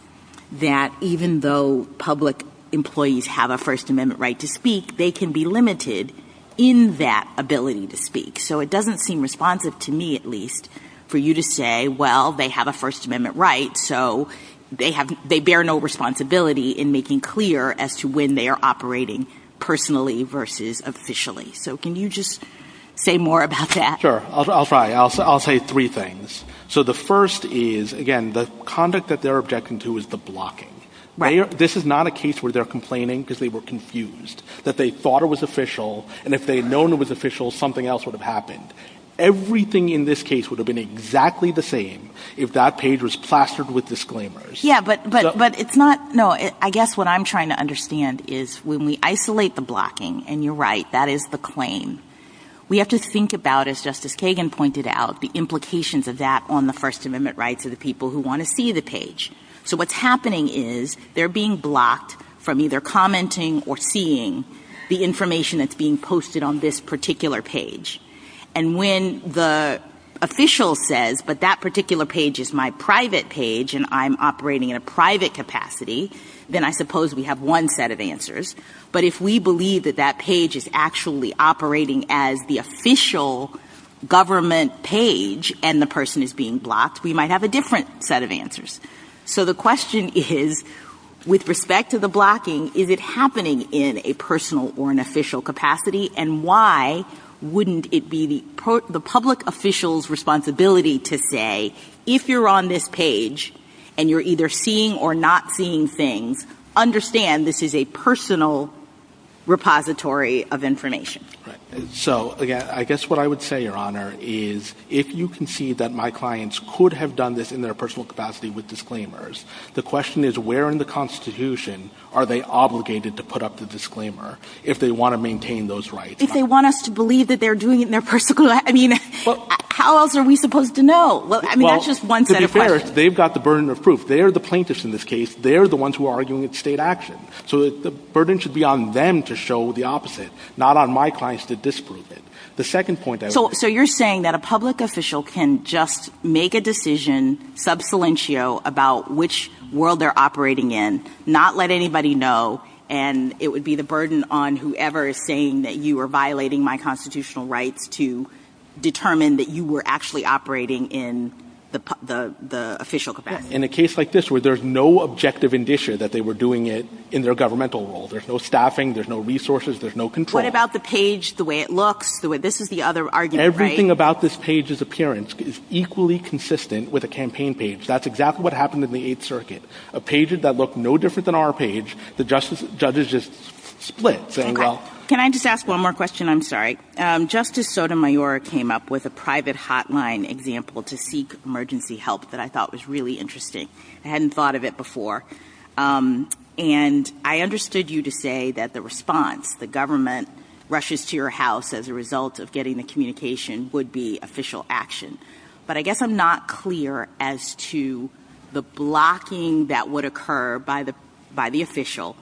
that even though public employees have a First Amendment right to speak, they can be limited in that ability to speak. So it doesn't seem responsive to me, at least, for you to say, well, they have a First Amendment right, so they bear no responsibility in making clear as to when they are operating personally versus officially. So can you just say more about that? Sure. I'll try. I'll say three things. So the first is, again, the conduct that they're objecting to is the blocking. This is not a case where they're complaining because they were confused, that they thought it was official. And if they had known it was official, something else would have happened. Everything in this case would have been exactly the same if that page was plastered with disclaimers. Yeah, but it's not. No, I guess what I'm trying to understand is when we isolate the blocking, and you're right, that is the claim, we have to think about, as Justice Kagan pointed out, the implications of that on the First Amendment rights of the people who want to see the page. So what's happening is they're being blocked from either commenting or seeing the information that's being posted on this particular page. And when the official says, but that particular page is my private page and I'm operating in a private capacity, then I suppose we have one set of answers. But if we believe that that page is actually operating as the official government page and the person is being blocked, we might have a different set of answers. So the question is, with respect to the blocking, is it happening in a personal or an official capacity? And why wouldn't it be the public official's responsibility to say, if you're on this page and you're either seeing or not seeing things, understand this is a personal repository of information? So I guess what I would say, Your Honor, is if you can see that my clients could have done this in their personal capacity with disclaimers, the question is, where in the Constitution are they obligated to put up the disclaimer if they want to maintain those rights? If they want us to believe that they're doing it in their personal capacity, how else are we supposed to know? To be fair, they've got the burden of proof. They're the plaintiffs in this case. They're the ones who are arguing for state action. So the burden should be on them to show the opposite, not on my clients to disprove it. So you're saying that a public official can just make a decision subsilentio about which world they're operating in, not let anybody know, and it would be the burden on whoever is saying that you are violating my constitutional rights to determine that you were actually operating in the official capacity. In a case like this where there's no objective indication that they were doing it in their governmental role. There's no staffing, there's no resources, there's no control. What about the page, the way it looks? This is the other argument, right? Everything about this page's appearance is equally consistent with a campaign page. That's exactly what happened in the Eighth Circuit. A page that looked no different than our page, the judges just split. Can I just ask one more question? I'm sorry. Justice Sotomayor came up with a private hotline example to seek emergency help that I thought was really interesting. I hadn't thought of it before. And I understood you to say that the response, the government rushes to your house as a result of getting the communication would be official action. But I guess I'm not clear as to the blocking that would occur by the official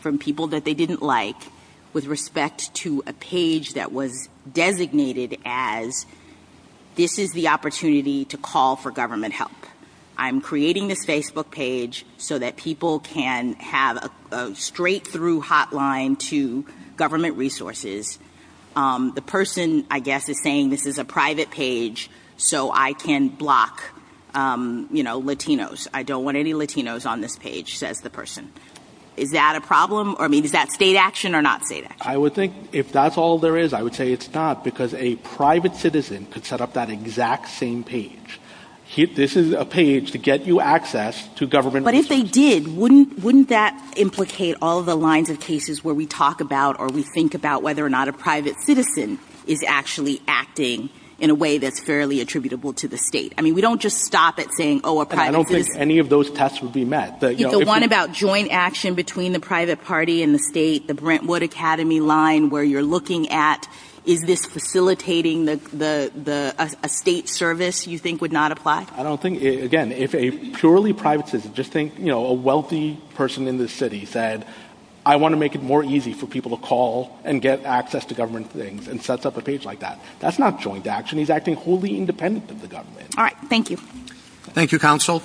from people that they didn't like with respect to a page that was designated as this is the opportunity to call for government help. I'm creating a Facebook page so that people can have a straight through hotline to government resources. The person, I guess, is saying this is a private page so I can block, you know, Latinos. I don't want any Latinos on this page, says the person. Is that a problem or maybe is that state action or not state action? I would think if that's all there is, I would say it's not because a private citizen could set up that exact same page. This is a page to get you access to government resources. But if they did, wouldn't that implicate all the lines of cases where we talk about or we think about whether or not a private citizen is actually acting in a way that's fairly attributable to the state? I mean, we don't just stop at saying, oh, a private citizen. I don't think any of those tests would be met. The one about joint action between the private party and the state, the Brentwood Academy line where you're looking at is this facilitating a state service you think would not apply? I don't think, again, if a purely private citizen, just think, you know, a wealthy person in the city said I want to make it more easy for people to call and get access to government things and sets up a page like that. That's not joint action. He's acting wholly independent of the government. All right, thank you. Thank you, counsel.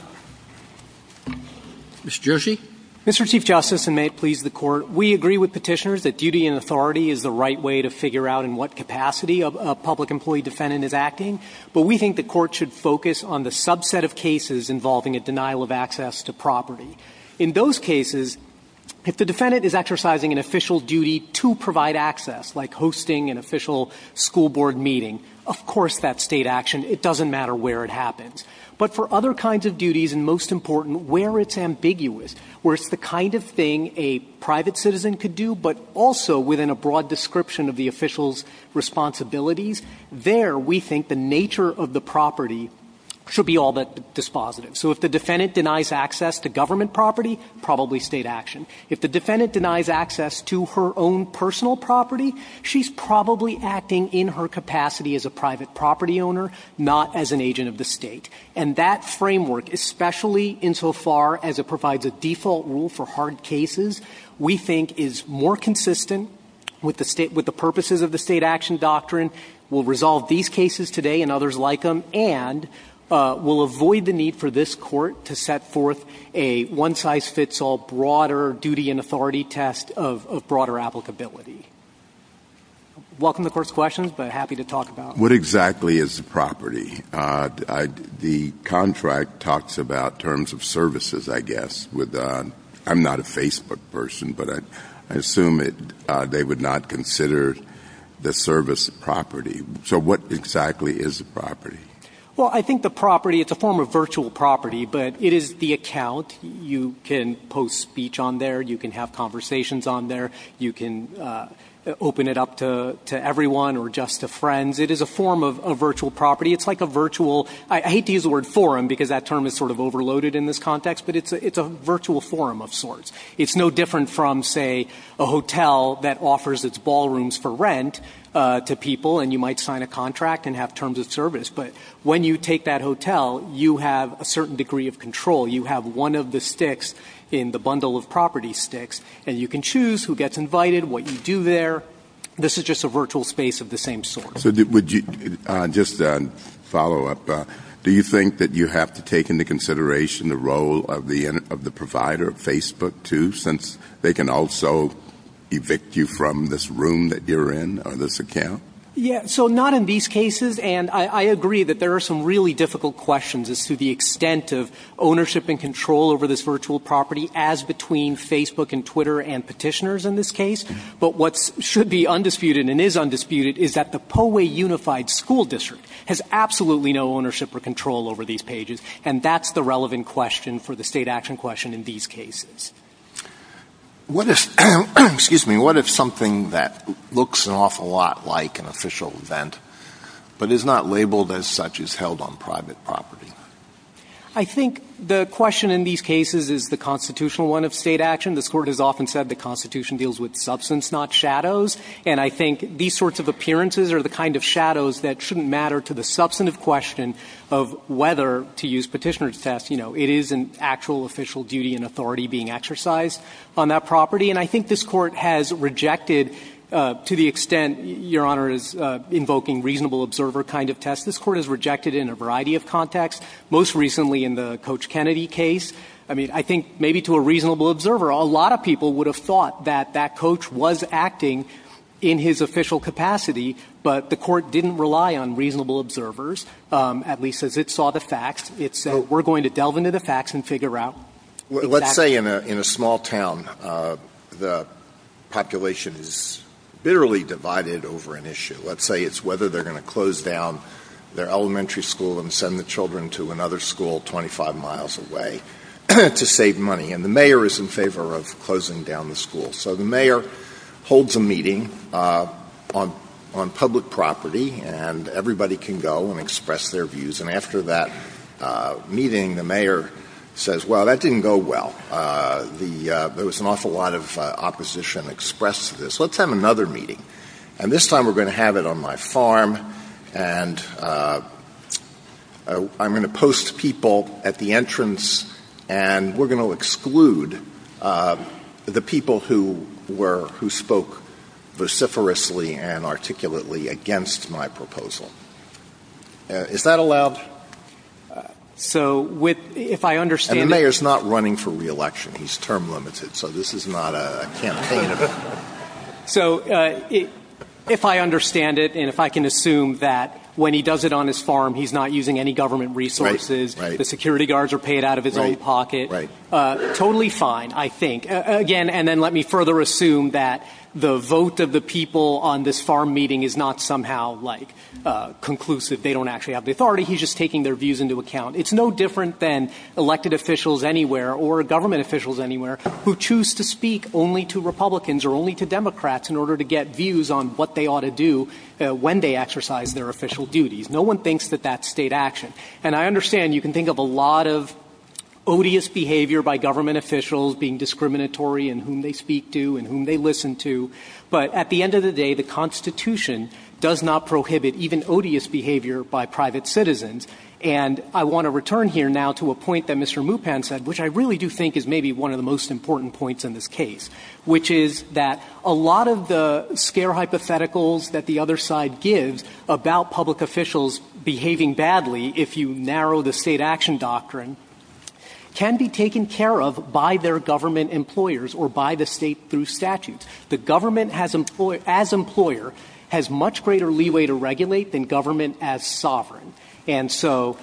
Mr. Gershi. Mr. Chief Justice, and may it please the Court, we agree with petitioners that duty and authority is the right way to figure out in what capacity a public employee defendant is acting. But we think the Court should focus on the subset of cases involving a denial of access to property. In those cases, if the defendant is exercising an official duty to provide access, like hosting an official school board meeting, of course that's state action. It doesn't matter where it happens. But for other kinds of duties, and most important, where it's ambiguous, where it's the kind of thing a private citizen could do, but also within a broad description of the official's responsibilities, there we think the nature of the property should be all that dispositive. So if the defendant denies access to government property, probably state action. If the defendant denies access to her own personal property, she's probably acting in her capacity as a private property owner, not as an agent of the state. And that framework, especially insofar as it provides a default rule for hard cases, we think is more consistent with the purposes of the state action doctrine, will resolve these cases today and others like them, and will avoid the need for this Court to set forth a one-size-fits-all, broader duty and authority test of broader applicability. Welcome to the Court's questions, but happy to talk about them. What exactly is the property? The contract talks about terms of services, I guess. I'm not a Facebook person, but I assume they would not consider the service property. So what exactly is the property? Well, I think the property is a form of virtual property, but it is the account. You can post speech on there. You can have conversations on there. You can open it up to everyone or just to friends. It is a form of virtual property. It's like a virtual, I hate to use the word forum because that term is sort of overloaded in this context, but it's a virtual forum of sorts. It's no different from, say, a hotel that offers its ballrooms for rent to people, and you might sign a contract and have terms of service. But when you take that hotel, you have a certain degree of control. You have one of the sticks in the bundle of property sticks, and you can choose who gets invited, what you do there. This is just a virtual space of the same sort. So just a follow-up, do you think that you have to take into consideration the role of the provider, Facebook, too, since they can also evict you from this room that you're in or this account? Yeah, so not in these cases, and I agree that there are some really difficult questions as to the extent of ownership and control over this virtual property as between Facebook and Twitter and petitioners in this case. But what should be undisputed and is undisputed is that the Poway Unified School District has absolutely no ownership or control over these pages, and that's the relevant question for the state action question in these cases. What if something that looks an awful lot like an official event but is not labeled as such is held on private property? I think the question in these cases is the constitutional one of state action. This Court has often said the Constitution deals with substance, not shadows, and I think these sorts of appearances are the kind of shadows that shouldn't matter to the substantive question of whether to use petitioner's test. You know, it is an actual official duty and authority being exercised on that property, and I think this Court has rejected to the extent Your Honor is invoking reasonable observer kind of test. This Court has rejected it in a variety of contexts, most recently in the Coach Kennedy case. I mean, I think maybe to a reasonable observer, a lot of people would have thought that that coach was acting in his official capacity, but the Court didn't rely on reasonable observers, at least as it saw the facts. So we're going to delve into the facts and figure out the facts. Let's say in a small town the population is barely divided over an issue. Let's say it's whether they're going to close down their elementary school and send the children to another school 25 miles away to save money, and the mayor is in favor of closing down the school. So the mayor holds a meeting on public property, and everybody can go and express their views, and after that meeting the mayor says, well, that didn't go well. There was an awful lot of opposition expressed to this. Let's have another meeting, and this time we're going to have it on my farm, and I'm going to post people at the entrance, and we're going to exclude the people who spoke vociferously and articulately against my proposal. Is that allowed? So if I understand it. And the mayor is not running for re-election. He's term-limited, so this is not a campaign. So if I understand it and if I can assume that when he does it on his farm, he's not using any government resources, the security guards are paid out of his own pocket, totally fine, I think. Again, and then let me further assume that the vote of the people on this farm meeting is not somehow, like, conclusive. They don't actually have the authority. He's just taking their views into account. It's no different than elected officials anywhere who choose to speak only to Republicans or only to Democrats in order to get views on what they ought to do when they exercise their official duties. No one thinks that that's state action. And I understand you can think of a lot of odious behavior by government officials being discriminatory in whom they speak to and whom they listen to, but at the end of the day, the Constitution does not prohibit even odious behavior by private citizens. And I want to return here now to a point that Mr. Mupan said, which I really do think is maybe one of the most important points in this case, which is that a lot of the scare hypotheticals that the other side gives about public officials behaving badly if you narrow the state action doctrine can be taken care of by their government employers or by the state through statutes. The government as employer has much greater leeway to regulate than government as sovereign. And so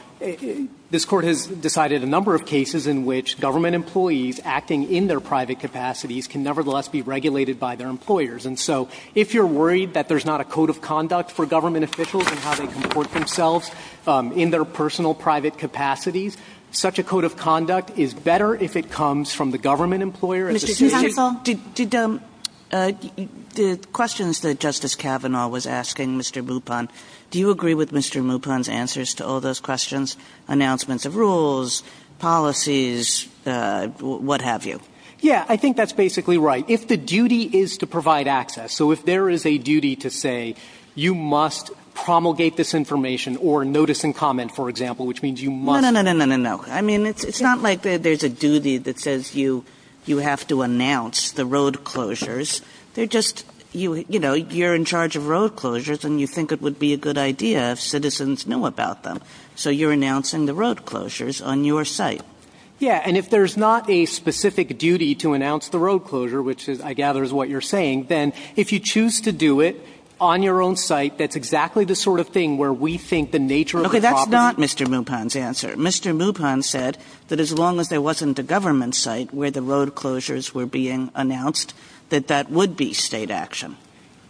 this court has decided a number of cases in which government employees acting in their private capacities can nevertheless be regulated by their employers. And so if you're worried that there's not a code of conduct for government officials and how they comport themselves in their personal private capacities, such a code of conduct is better if it comes from the government employer. The questions that Justice Kavanaugh was asking Mr. Mupan, do you agree with Mr. Mupan's answers to all those questions, announcements of rules, policies, what have you? Yeah, I think that's basically right. If the duty is to provide access, so if there is a duty to say you must promulgate this information or notice and comment, for example, which means you must... No, no, no, no. I mean, it's not like there's a duty that says you have to announce the road closures. They're just, you know, you're in charge of road closures and you think it would be a good idea if citizens know about them. So you're announcing the road closures on your site. Yeah, and if there's not a specific duty to announce the road closure, which I gather is what you're saying, then if you choose to do it on your own site, that's exactly the sort of thing where we think the nature of the problem... Mr. Mupan said that as long as there wasn't a government site where the road closures were being announced, that that would be state action.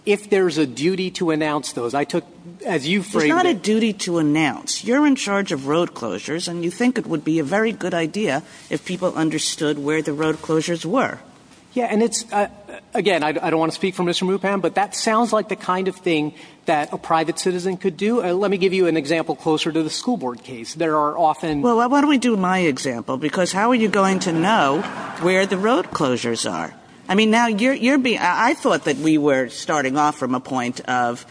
If there's a duty to announce those, I took... It's not a duty to announce. You're in charge of road closures and you think it would be a very good idea if people understood where the road closures were. Yeah, and it's... Again, I don't want to speak for Mr. Mupan, but that sounds like the kind of thing that a private citizen could do. Let me give you an example closer to the school board case. There are often... Well, why don't we do my example, because how are you going to know where the road closures are? I mean, now you're being... I thought that we were starting off from a point of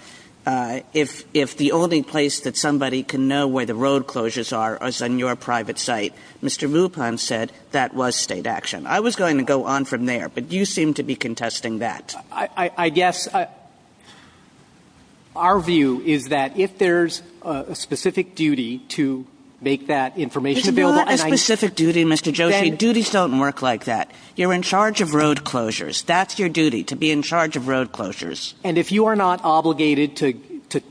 if the only place that somebody can know where the road closures are is on your private site, Mr. Mupan said that was state action. I was going to go on from there, but you seem to be contesting that. I guess our view is that if there's a specific duty to make that information available... It's not a specific duty, Mr. Joshi. Duties don't work like that. You're in charge of road closures. That's your duty, to be in charge of road closures. And if you are not obligated to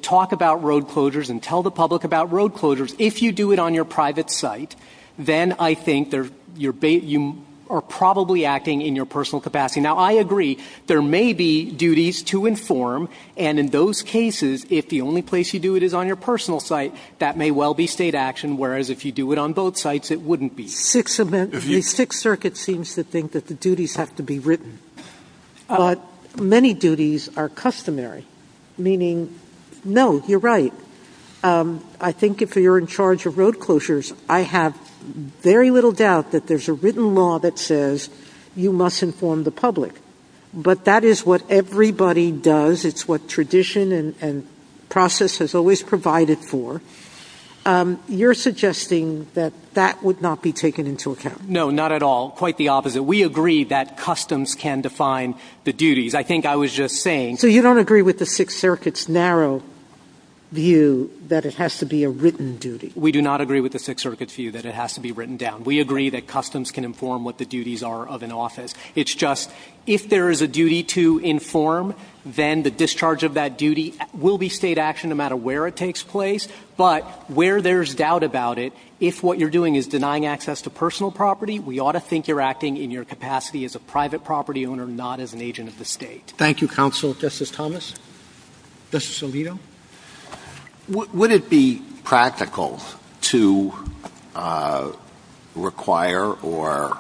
talk about road closures and tell the public about road closures, if you do it on your private site, then I think you are probably acting in your personal capacity. Now, I agree, there may be duties to inform, and in those cases, if the only place you do it is on your personal site, that may well be state action, whereas if you do it on both sites, it wouldn't be. The Sixth Circuit seems to think that the duties have to be written. But many duties are customary, meaning, no, you're right. I think if you're in charge of road closures, I have very little doubt that there's a written law that says you must inform the public. But that is what everybody does. It's what tradition and process has always provided for. You're suggesting that that would not be taken into account. No, not at all. Quite the opposite. We agree that customs can define the duties. I think I was just saying... So you don't agree with the Sixth Circuit's narrow view that it has to be a written duty? We do not agree with the Sixth Circuit's view that it has to be written down. We agree that customs can inform what the duties are of an office. It's just if there is a duty to inform, then the discharge of that duty will be state action no matter where it takes place. But where there's doubt about it, if what you're doing is denying access to personal property, we ought to think you're acting in your capacity as a private property owner, not as an agent of the state. Thank you, Counsel. Justice Thomas? Justice Alito? Would it be practical to require or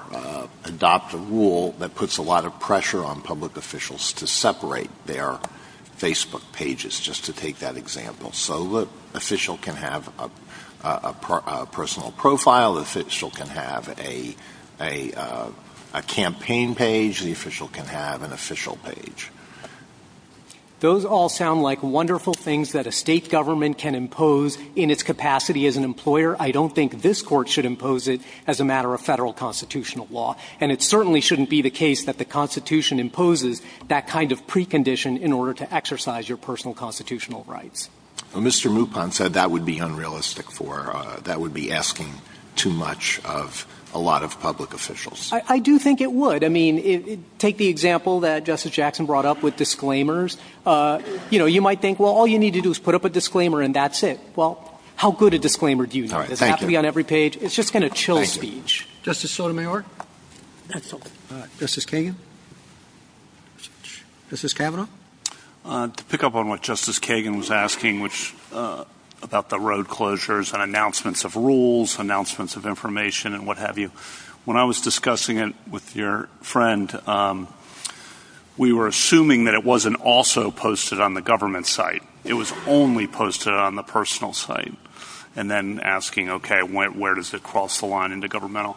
adopt a rule that puts a lot of pressure on public officials to separate their Facebook pages, just to take that example? So the official can have a personal profile. The official can have a campaign page. The official can have an official page. Those all sound like wonderful things that a state government can impose in its capacity as an employer. I don't think this court should impose it as a matter of federal constitutional law, and it certainly shouldn't be the case that the Constitution imposes that kind of precondition in order to exercise your personal constitutional rights. Mr. Mupon said that would be unrealistic for her. That would be asking too much of a lot of public officials. I do think it would. Take the example that Justice Jackson brought up with disclaimers. You might think, well, all you need to do is put up a disclaimer and that's it. Well, how good a disclaimer do you need? It doesn't have to be on every page. It's just kind of chill speech. Justice Sotomayor? Justice Kagan? Justice Kavanaugh? To pick up on what Justice Kagan was asking about the road closures and announcements of rules, announcements of information, and what have you, when I was discussing it with your friend, we were assuming that it wasn't also posted on the government site. It was only posted on the personal site. And then asking, okay, where does it cross the line into governmental?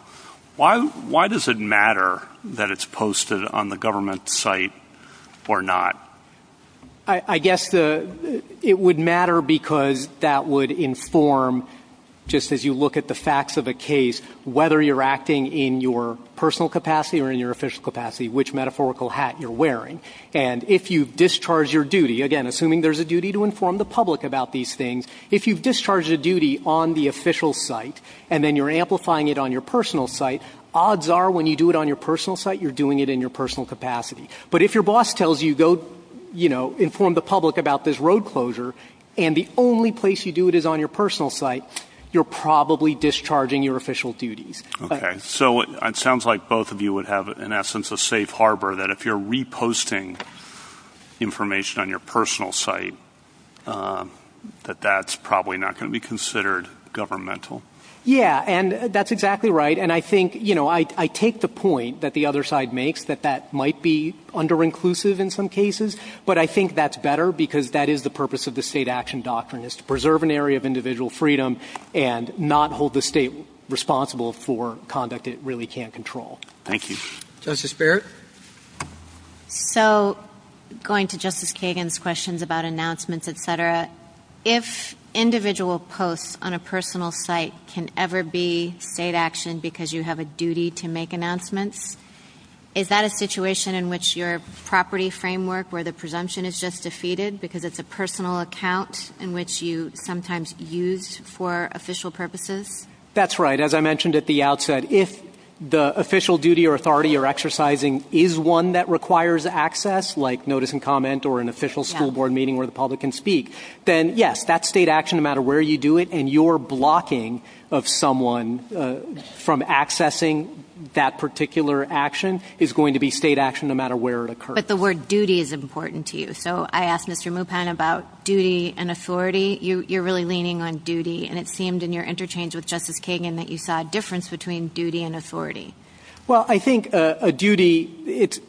Why does it matter that it's posted on the government site or not? I guess it would matter because that would inform, just as you look at the facts of a case, whether you're acting in your personal capacity or in your official capacity, which metaphorical hat you're wearing. And if you've discharged your duty, again, assuming there's a duty to inform the public about these things, if you've discharged a duty on the official site and then you're amplifying it on your personal site, odds are when you do it on your personal site, you're doing it in your personal capacity. But if your boss tells you, go inform the public about this road closure and the only place you do it is on your personal site, you're probably discharging your official duties. Okay. So it sounds like both of you would have in essence a safe harbor that if you're reposting information on your personal site, that that's probably not going to be considered governmental. Yeah. And that's exactly right. And I think, you know, I take the point that the other side makes that that might be under-inclusive in some cases, but I think that's better because that is the purpose of the state action doctrine is to preserve an area of individual freedom and not hold the state responsible for conduct it really can't control. Thank you. Justice Barrett. So going to Justice Kagan's questions about announcements, et cetera, if individual posts on a personal site can ever be state action because you have a duty to make announcements, is that a situation in which your property framework where the presumption is just defeated because it's a personal account in which you sometimes use for official purposes? That's right. As I mentioned at the outset, if the official duty or authority or exercising is one that requires access, like notice and comment or an official school board meeting where the public can speak, then yes, that's state action, no matter where you do it. And your blocking of someone from accessing that particular action is going to be state action no matter where it occurs. But the word duty is important to you. So I asked Mr. Mupan about duty and authority. You're really leaning on duty and it seemed in your interchange with Justice Kagan that you saw a difference between duty and authority. Well, I think a duty, it's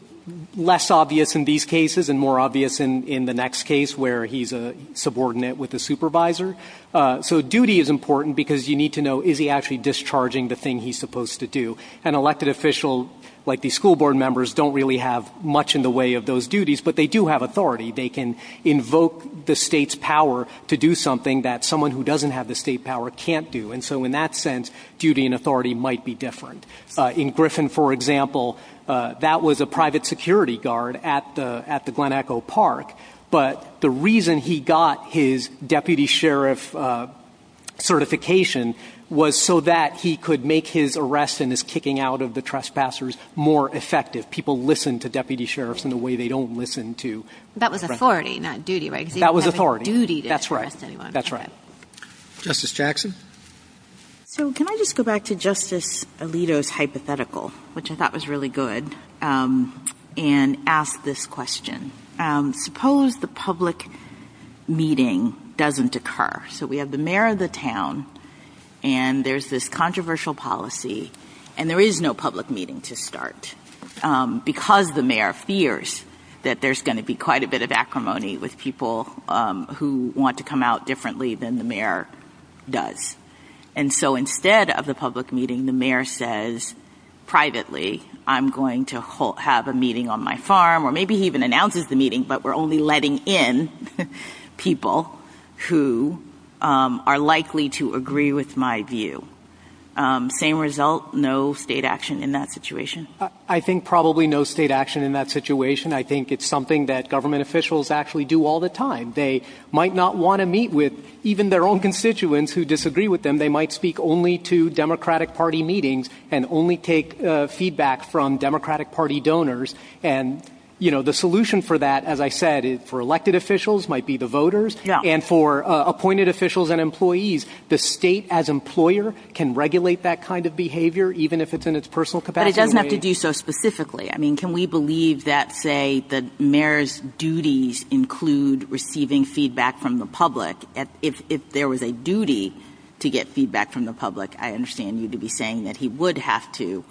less obvious in these cases and more obvious in the next case where he's a subordinate with a supervisor. So duty is important because you need to know, is he actually discharging the thing he's supposed to do? An elected official like the school board members don't really have much in the way of those duties, but they do have authority. They can invoke the state's power to do something that someone who doesn't have the state power can't do. And so in that sense, duty and authority might be different. In Griffin, for example, that was a private security guard at the Glen Echo Park. But the reason he got his deputy sheriff certification was so that he could make his arrest and his kicking out of the trespassers more effective. People listen to deputy sheriffs in the way they don't listen to- That was authority, not duty, right? That was authority. Duty didn't arrest anyone. That's right. Justice Jackson? So can I just go back to Justice Alito's hypothetical, which I thought was really good, and ask this question. Suppose the public meeting doesn't occur. So we have the mayor of the town, and there's this controversial policy, and there is no public meeting to start because the mayor fears that there's going to be quite a bit of acrimony with people who want to come out differently than the mayor does. And so instead of the public meeting, the mayor says privately, I'm going to have a meeting on my farm, or maybe even announces the meeting, but we're only letting in people who are likely to agree with my view. Same result, no state action in that situation? I think probably no state action in that situation. I think it's something that government officials actually do all the time. They might not want to meet with even their own constituents who disagree with them. And they might speak only to Democratic Party meetings and only take feedback from Democratic Party donors. And the solution for that, as I said, for elected officials might be the voters, and for appointed officials and employees, the state as employer can regulate that kind of behavior, even if it's in its personal capacity. But it doesn't have to do so specifically. I mean, can we believe that, say, the mayor's duties include receiving feedback from the public if there was a vote? I understand you to be saying that he would have to,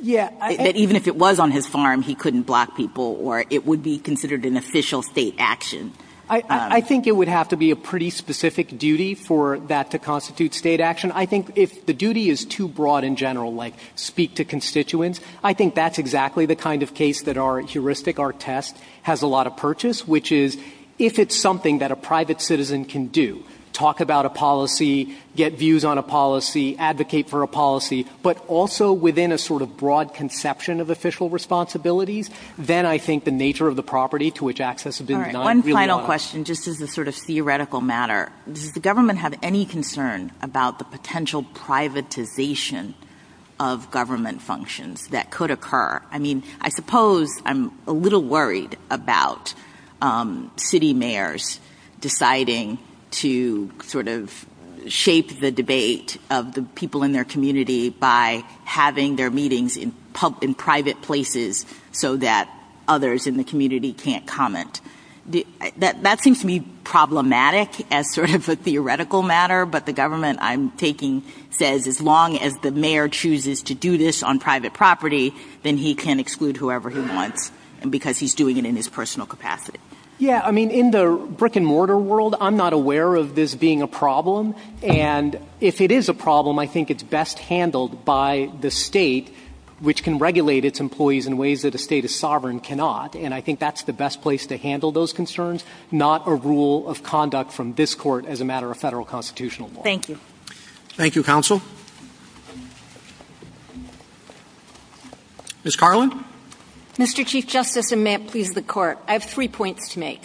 that even if it was on his farm, he couldn't block people or it would be considered an official state action. I think it would have to be a pretty specific duty for that to constitute state action. I think if the duty is too broad in general, like speak to constituents, I think that's exactly the kind of case that our heuristic, our test has a lot of purchase, which is if it's something that a private citizen can do, talk about a policy, get views on a policy, advocate for a policy, but also within a sort of broad conception of official responsibilities, then I think the nature of the property to which access to business. One final question, just as a sort of theoretical matter, does the government have any concern about the potential privatization of government functions that could occur? I mean, I suppose I'm a little worried about city mayors deciding to sort of shape the debate of the people in their community by having their meetings in public and private places so that others in the community can't comment. That seems to me problematic as sort of a theoretical matter, but the government I'm taking says as long as the mayor chooses to do this on private property, then he can exclude whoever he wants because he's doing it in his personal capacity. Yeah. I mean, in the brick and mortar world, I'm not aware of this being a problem. And if it is a problem, I think it's best handled by the state, which can regulate its employees in ways that a state of sovereign cannot. And I think that's the best place to handle those concerns, not a rule of conduct from this court as a matter of federal constitutional law. Thank you. Thank you, counsel. Ms. Carlin. Mr. Chief justice and may it please the court. I have three points to make.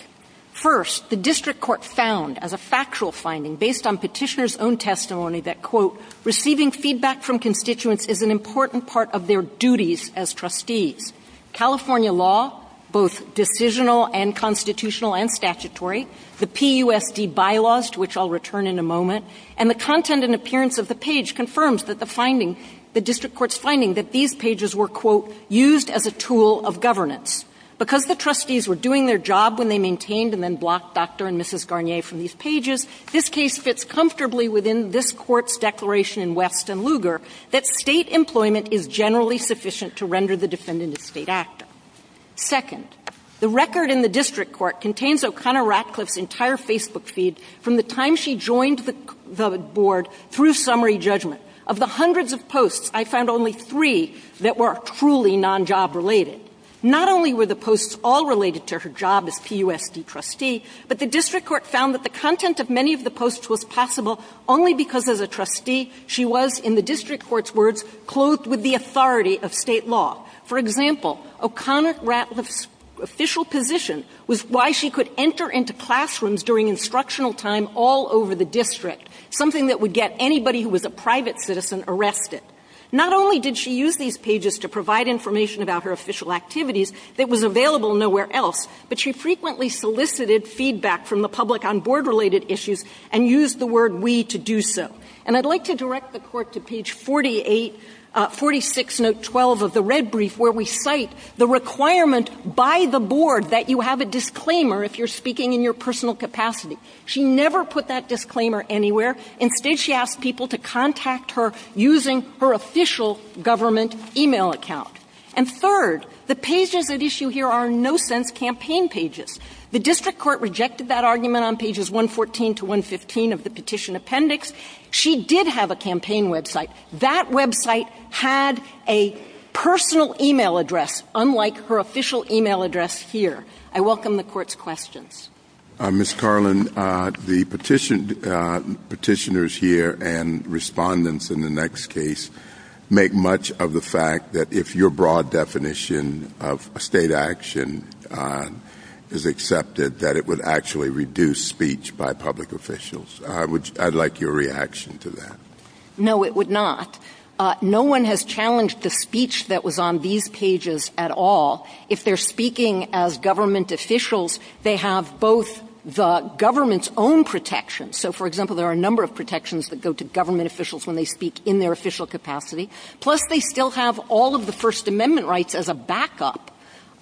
First, the district court found as a factual finding based on petitioners own testimony that quote, receiving feedback from constituents is an important part of their duties as trustees, California law, both decisional and constitutional and statutory, the PUSD bylaws, which I'll return in a moment. And the content and appearance of the page confirms that the finding, the district court's finding that these pages were quote, used as a tool of governance because the trustees were doing their job when they maintained and then blocked Dr. and Mrs. Garnier from these pages. This case fits comfortably within this court's declaration in West and Lugar that state employment is generally sufficient to render the defendant a state active. Second, the record in the district court contains O'Connor Ratcliffe's entire Facebook feed from the time she joined the board through summary judgment. Of the hundreds of posts, I found only three that were truly non-job related. Not only were the posts all related to her job as PUSD trustee, but the district court found that the content of many of the posts was possible only because of the trustee she was in the district court's words closed with the authority of state law. For example, O'Connor Ratcliffe's official position was why she could enter into classrooms during instructional time all over the district, something that would get anybody who was a private citizen arrested. Not only did she use these pages to provide information about her official activities that was available nowhere else, but she frequently solicited feedback from the public on board related issues and used the word we to do so. And I'd like to direct the court to page 48, 46, note 12 of the red brief where we cite the requirement by the board that you have a disclaimer if you're speaking in your personal capacity. She never put that disclaimer anywhere. Instead she asked people to contact her using her official government email account. And third, the pages that issue here are no sense campaign pages. The district court rejected that argument on pages 114 to 115 of the petition appendix. She did have a campaign website. That website had a personal email address, unlike her official email address here. I welcome the court's questions. Ms. Carlin, the petitioners here and respondents in the next case make much of the fact that if your broad definition of state action is accepted, that it would actually reduce speech by public officials. I'd like your reaction to that. No, it would not. No one has challenged the speech that was on these pages at all. If they're speaking as government officials, they have both the government's own protections. So for example, there are a number of protections that go to government officials when they speak in their official capacity. Plus they still have all of the first amendment rights as a backup.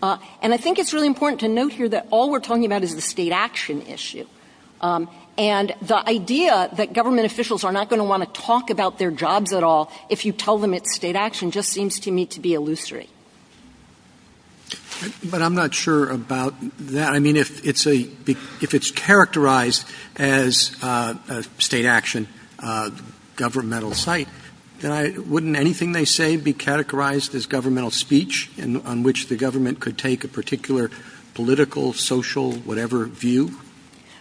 And I think it's really important to note here that all we're talking about is the state action issue. And the idea that government officials are not going to want to talk about their jobs at all, if you tell them it's state action just seems to me to be illusory. But I'm not sure about that. I mean, if it's a, if it's characterized as a state action governmental site, wouldn't anything they say be categorized as governmental speech on which the government could take a particular political, social, whatever view?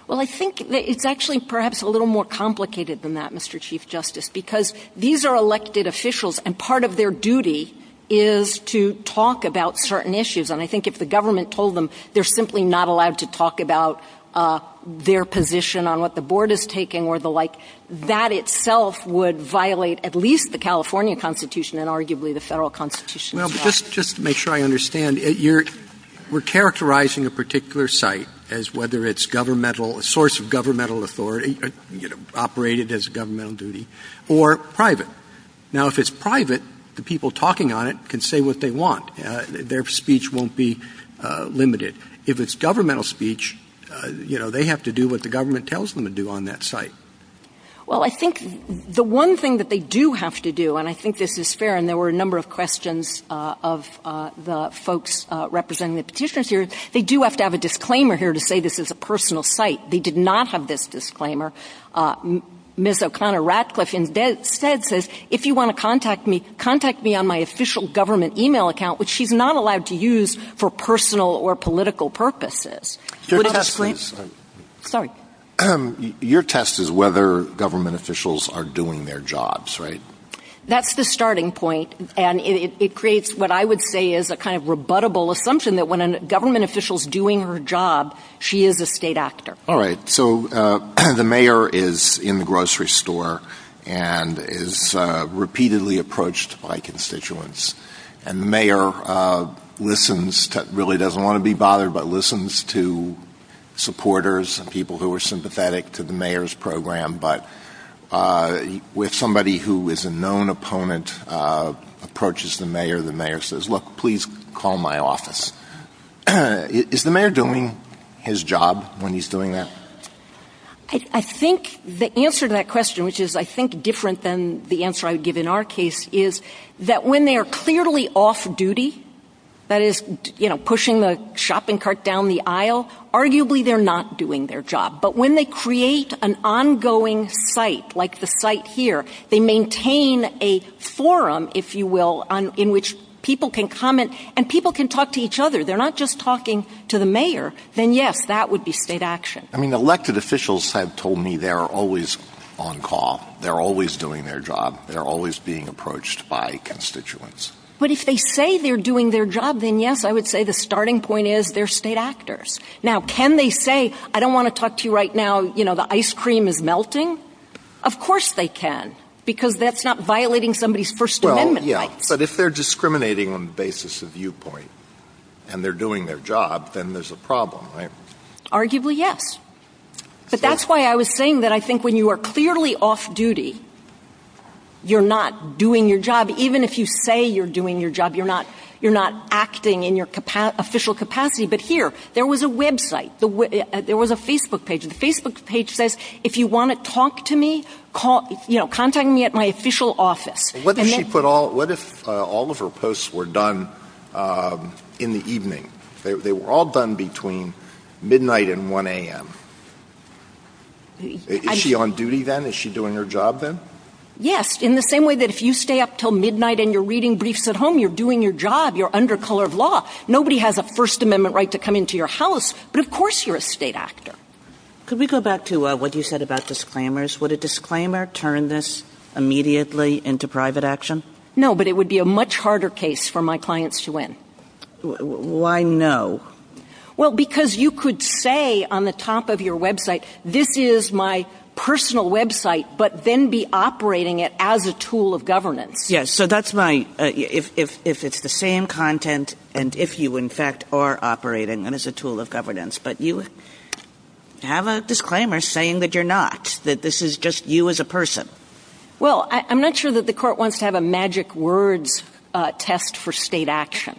Well, I think it's actually perhaps a little more complicated than that, Mr. Chief Justice, because these are elected officials and part of their duty is to talk about certain issues. And I think if the government told them they're simply not allowed to talk about their position on what the board is taking or the like, that itself would violate at least the California constitution and arguably the federal constitution. Just to make sure I understand it, you're we're characterizing a particular site as whether it's governmental source of governmental authority, you know, operated as a governmental duty or private. Now, if it's private, the people talking on it can say what they want. Their speech won't be limited. If it's governmental speech, you know, they have to do what the government tells them to do on that site. Well, I think the one thing that they do have to do, and I think this is fair. And there were a number of questions of the folks representing the petitioners here. They do have to have a disclaimer here to say, this is a personal site. They did not have this disclaimer. Ms. O'Connor Ratcliffe in bed said, says, if you want to contact me, contact me on my official government email account, which she's not allowed to use for personal or political purposes. Sorry. Your test is whether government officials are doing their jobs, right? That's the starting point. And it creates what I would say is a kind of rebuttable assumption that when a government officials doing her job, she is a state actor. So the mayor is in the grocery store and is repeatedly approached by constituents. And the mayor listens, really doesn't want to be bothered, but listens to supporters and people who are sympathetic to the mayor's program. But with somebody who is a known opponent approaches the mayor, the mayor says, look, please call my office. Is the mayor doing his job when he's doing that? I think the answer to that question, which is I think different than the answer I would give in our case is that when they are clearly off duty, that is, you know, pushing the shopping cart down the aisle, arguably they're not doing their job, but when they create an ongoing site, like the site here, they maintain a forum, if you will, on in which people can comment and people can talk to each other. They're not just talking to the mayor. Then yes, that would be state action. I mean, elected officials have told me they're always on call. They're always doing their job. They're always being approached by constituents. But if they say they're doing their job, then yes, I would say the starting point is they're state actors. Now, can they say, I don't want to talk to you right now. You know, the ice cream is melting. Of course they can, because that's not violating somebody's first amendment. Yeah, but if they're discriminating on the basis of viewpoint and they're doing their job, then there's a problem, right? Arguably. Yes. But that's why I was saying that I think when you are clearly off duty, you're not doing your job. Even if you say you're doing your job, you're not, you're not acting in your official capacity. But here, there was a website. There was a Facebook page. The Facebook page says, if you want to talk to me, call, you know, contact me at my official office. What if she put all, what if all of her posts were done in the evening? They were all done between midnight and 1 a.m. Is she on duty then? Is she doing her job then? Yes. In the same way that if you stay up till midnight and you're reading briefs at home, you're doing your job. You're under color of law. Nobody has a first amendment right to come into your house, but of course you're a state actor. Could we go back to what you said about disclaimers? Would a disclaimer turn this immediately into private action? No, but it would be a much harder case for my clients to win. Why no? Well, because you could say on the top of your website, this is my personal website, but then be operating it as a tool of governance. Yes. So that's my, if it's the same content, and if you in fact are operating them as a tool of governance, but you have a disclaimer saying that you're not, that this is just you as a person. Well, I'm not sure that the court wants to have a magic words test for state action.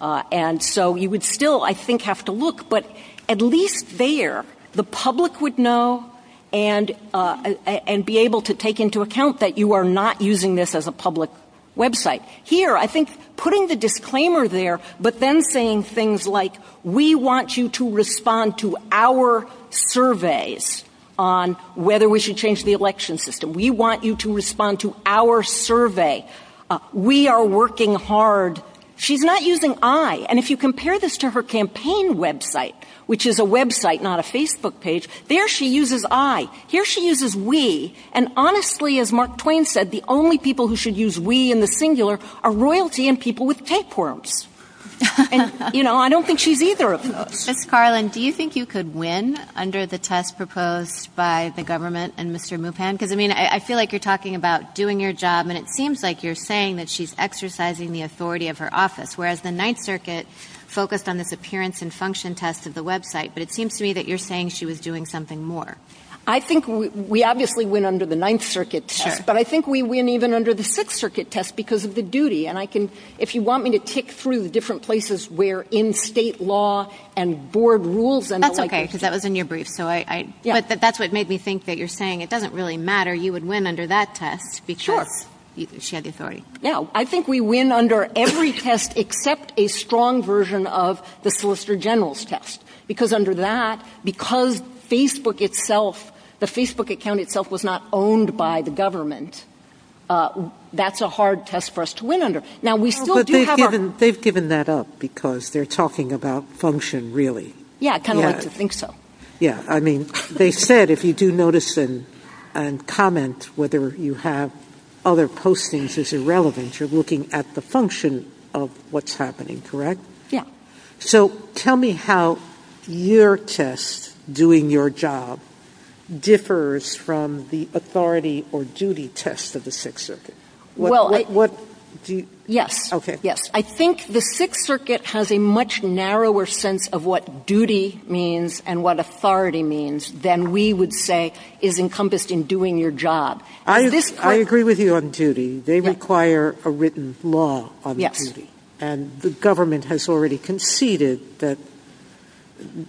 And so you would still, I think have to look, but at least there the public would know and, and be able to take into account that you are not using this as a public website here. I think putting the disclaimer there, but then saying things like, we want you to respond to our surveys on whether we should change the election system. We want you to respond to our survey. We are working hard. She's not using I, and if you compare this to her campaign website, which is a website, not a Facebook page there, she uses I here, she uses we. And honestly, as Mark Twain said, the only people who should use we in the singular are royalty and people with tapeworms. And you know, I don't think she's either of those. Ms. Carlin, do you think you could win under the test proposed by the government and Mr. Muppet? Cause I mean, I feel like you're talking about doing your job and it seems like you're saying that she's exercising the authority of her office, whereas the ninth circuit focused on this appearance and function test of the website. But it seems to me that you're saying she was doing something more. I think we, we obviously went under the ninth circuit, but I think we win even under the sixth circuit test because of the duty. And I can, if you want me to kick through the different places where in state law and board rules, that was in your brief. So I, that's what made me think that you're saying. It doesn't really matter. You would win under that test. Sure. She had authority. No, I think we win under every test except a strong version of the solicitor general's test. Because under that, because Facebook itself, the Facebook account itself was not owned by the government. That's a hard test for us to win under. Now we still do. They've given that up because they're talking about function. Really? Yeah. I think so. Yeah. I mean, they said, if you do notice and comment, whether you have other postings is irrelevant. You're looking at the function of what's happening, correct? Yeah. So tell me how your test, doing your job, differs from the authority or duty test of the sixth circuit. Well, yes. Okay. Yes. I think the sixth circuit has a much narrower sense of what duty means and what authority means than we would say is encompassed in doing your job. I agree with you on duty. They require a written law on duty. And the government has already conceded that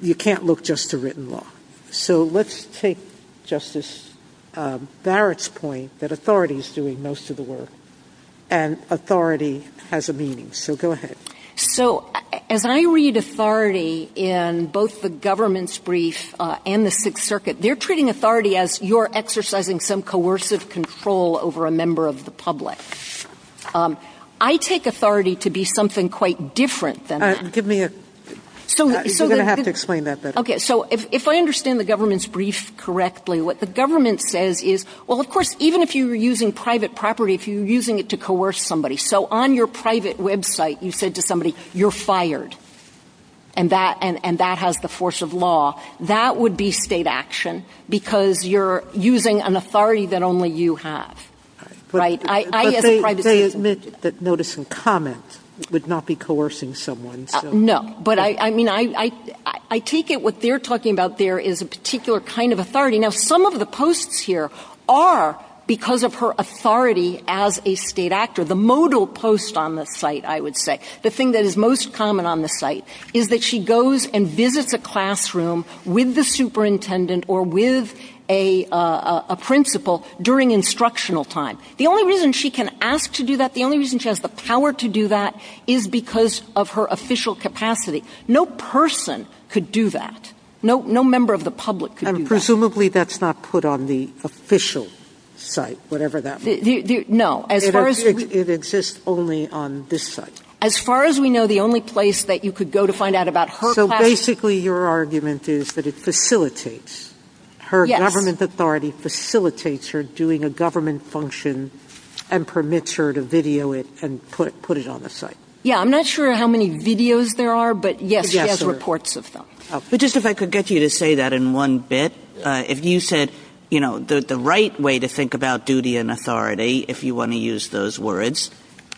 you can't look just to written law. So let's take Justice Barrett's point that authority is doing most of the work. And authority has a meaning. So go ahead. So as I read authority in both the government's brief and the sixth circuit, they're treating authority as you're exercising some coercive control over a member of the public. I take authority to be something quite different than that. Give me a, you're going to have to explain that. Okay. So if I understand the government's brief correctly, what the government says is, well, of course, even if you were using private property, if you're using it to coerce somebody. So on your private website, you said to somebody, you're fired. And that has the force of law. That would be state action. Because you're using an authority that only you have. Right? They admit that noticing comments would not be coercing someone. No. But I mean, I take it what they're talking about there is a particular kind of authority. Now, some of the posts here are because of her authority as a state actor. The modal post on the site, I would say the thing that is most common on the site is that she goes and visits the classroom with the superintendent or with a, a principal during instructional time. The only reason she can ask to do that, the only reason she has the power to do that is because of her official capacity. No person could do that. No, no member of the public. Presumably that's not put on the official site, whatever that. No. It exists only on this site. As far as we know, the only place that you could go to find out about her, basically your argument is that it facilitates her government authority, facilitates her doing a government function and permits her to video it and put it, put it on the site. Yeah. I'm not sure how many videos there are, but yes, she has reports of them. But just, if I could get you to say that in one bit, if you said, you know, the, the right way to think about duty and authority, if you want to use those words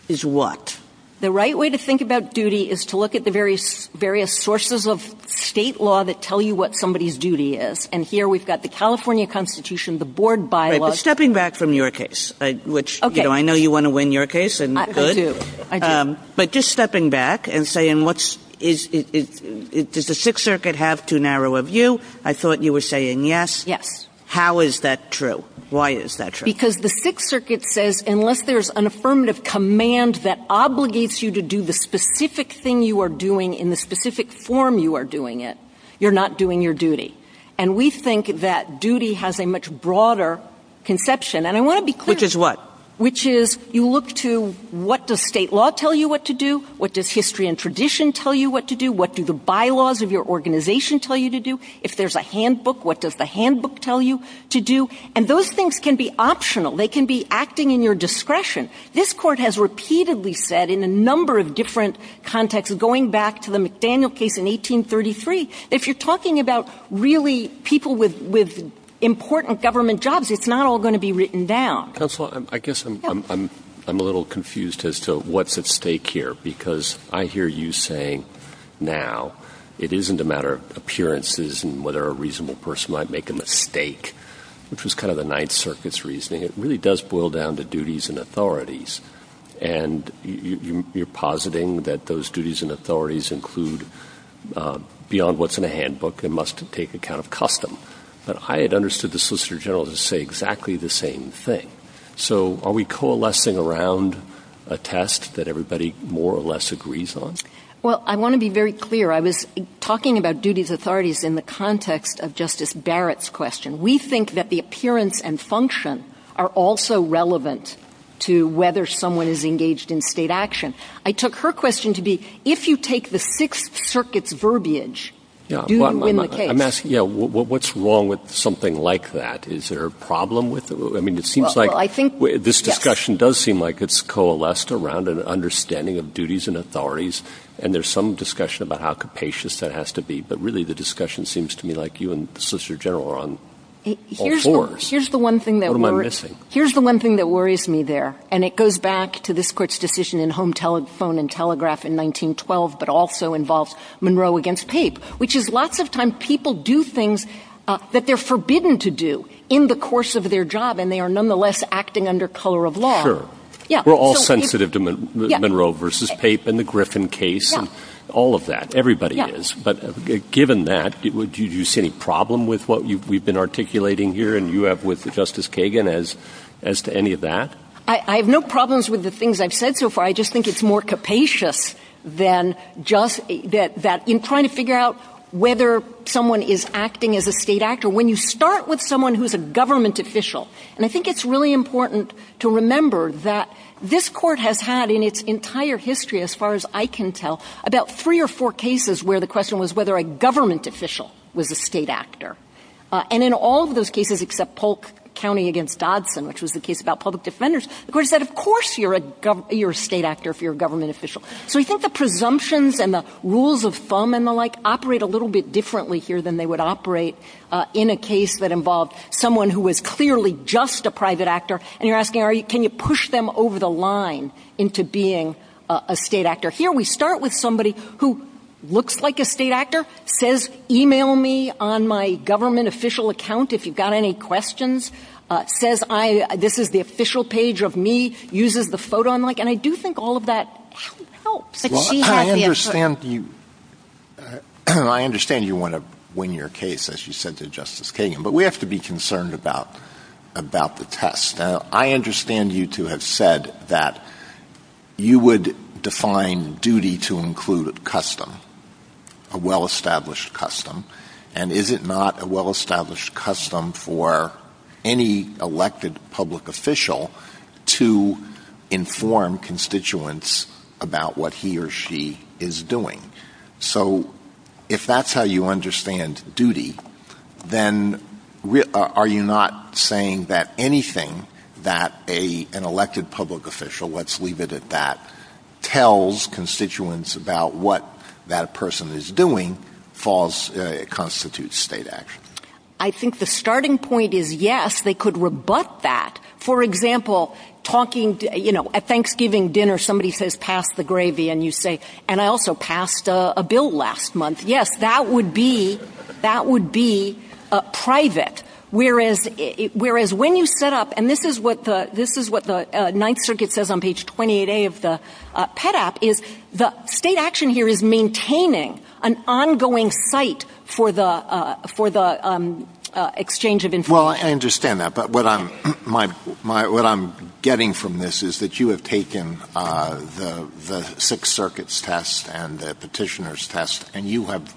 is what? The right way to think about duty is to look at the various, various sources of state law that tell you what somebody's duty is. And here we've got the California constitution, the board bylaw, stepping back from your case, which I know you want to win your case and, but just stepping back and saying, what's is it? Does the sixth circuit have too narrow a view? I thought you were saying, yes. How is that true? Why is that true? Because the sixth circuit says, unless there's an affirmative command that obligates you to do the specific thing you are doing in the specific form you are doing it, you're not doing your duty. And we think that duty has a much broader conception. And I want to be clear. Which is what? Which is you look to what does state law tell you what to do? What does history and tradition tell you what to do? What do the bylaws of your organization tell you to do? If there's a handbook, what does the handbook tell you to do? And those things can be optional. They can be acting in your discretion. This court has repeatedly said in a number of different contexts, going back to the McDaniel case in 1833, if you're talking about really people with, with important government jobs, it's not all going to be written down. I guess I'm, I'm, I'm a little confused as to what's at stake here, because I hear you saying now it isn't a matter of appearances. It isn't whether a reasonable person might make a mistake, which was kind of the ninth circuit's reasoning. It really does boil down to duties and authorities. And you're positing that those duties and authorities include beyond what's in a handbook. There must take account of custom, but I had understood the solicitor general to say exactly the same thing. So are we coalescing around a test that everybody more or less agrees on? Well, I want to be very clear. I was talking about duties, authorities in the context of justice Barrett's question. We think that the appearance and function are also relevant to whether someone is engaged in state action. I took her question to be, if you take the sixth circuit's verbiage, I'm asking, yeah, what's wrong with something like that? Is there a problem with, I mean, it seems like this discussion does seem like it's coalesced around an understanding of duties and authorities. And there's some discussion about how capacious that has to be, but really the discussion seems to me like you and the solicitor general are on. Here's the one thing that we're missing. Here's the one thing that worries me there. And it goes back to this court's decision in home telephone and telegraph in 1912, but also involves Monroe against tape, which is lots of times people do things that they're forbidden to do in the course of their job. And they are nonetheless acting under color of law. Yeah. We're all sensitive to Monroe versus tape and the Griffin case and all of that. Everybody is, but given that it would, do you see any problem with what we've been articulating here? And you have with the justice Kagan as, as to any of that, I have no problems with the things I've said so far. I just think it's more capacious than just that, that in trying to figure out whether someone is acting as a state actor, when you start with someone who's a government official. And I think it's really important to remember that this court has had in its entire history, as far as I can tell about three or four cases where the question was whether a government official was a state actor. And in all of those cases, except Polk County against Dodson, which was the case about public defenders, of course that of course you're a, you're a state actor if you're a government official. So I think the presumptions and the rules of thumb and the like operate a little bit differently here than they would operate in a case that involved someone who was clearly just a private actor. And you're asking, are you, can you push them over the line into being a state actor here? We start with somebody who looks like a state actor says, email me on my government official account. If you've got any questions, says I, this is the official page of me uses the photo. I'm like, and I do think all of that helps. I understand you want to win your case as you said to justice Kagan, but we have to be concerned about, about the test. Now I understand you to have said that you would define duty to include a custom, a well-established custom. And is it not a well-established custom for any elected public official to inform constituents about what he or she is doing? So if that's how you understand duty, then are you not saying that anything that a, an elected public official, let's leave it at that tells constituents about what that person is doing falls constitutes state action. I think the starting point is yes, they could rebut that. For example, talking to, you know, at Thanksgiving dinner, somebody says, pass the gravy and you say, and I also passed a bill last month. Yes, that would be, that would be a private. Whereas, whereas when you set up, and this is what the, this is what the ninth circuit says on page 28 day of the pet app is the state action here is maintaining an ongoing site for the, for the exchange of information. I understand that. But what I'm, my, my, what I'm getting from this is that you have taken the, the six circuits test and the petitioners test, and you have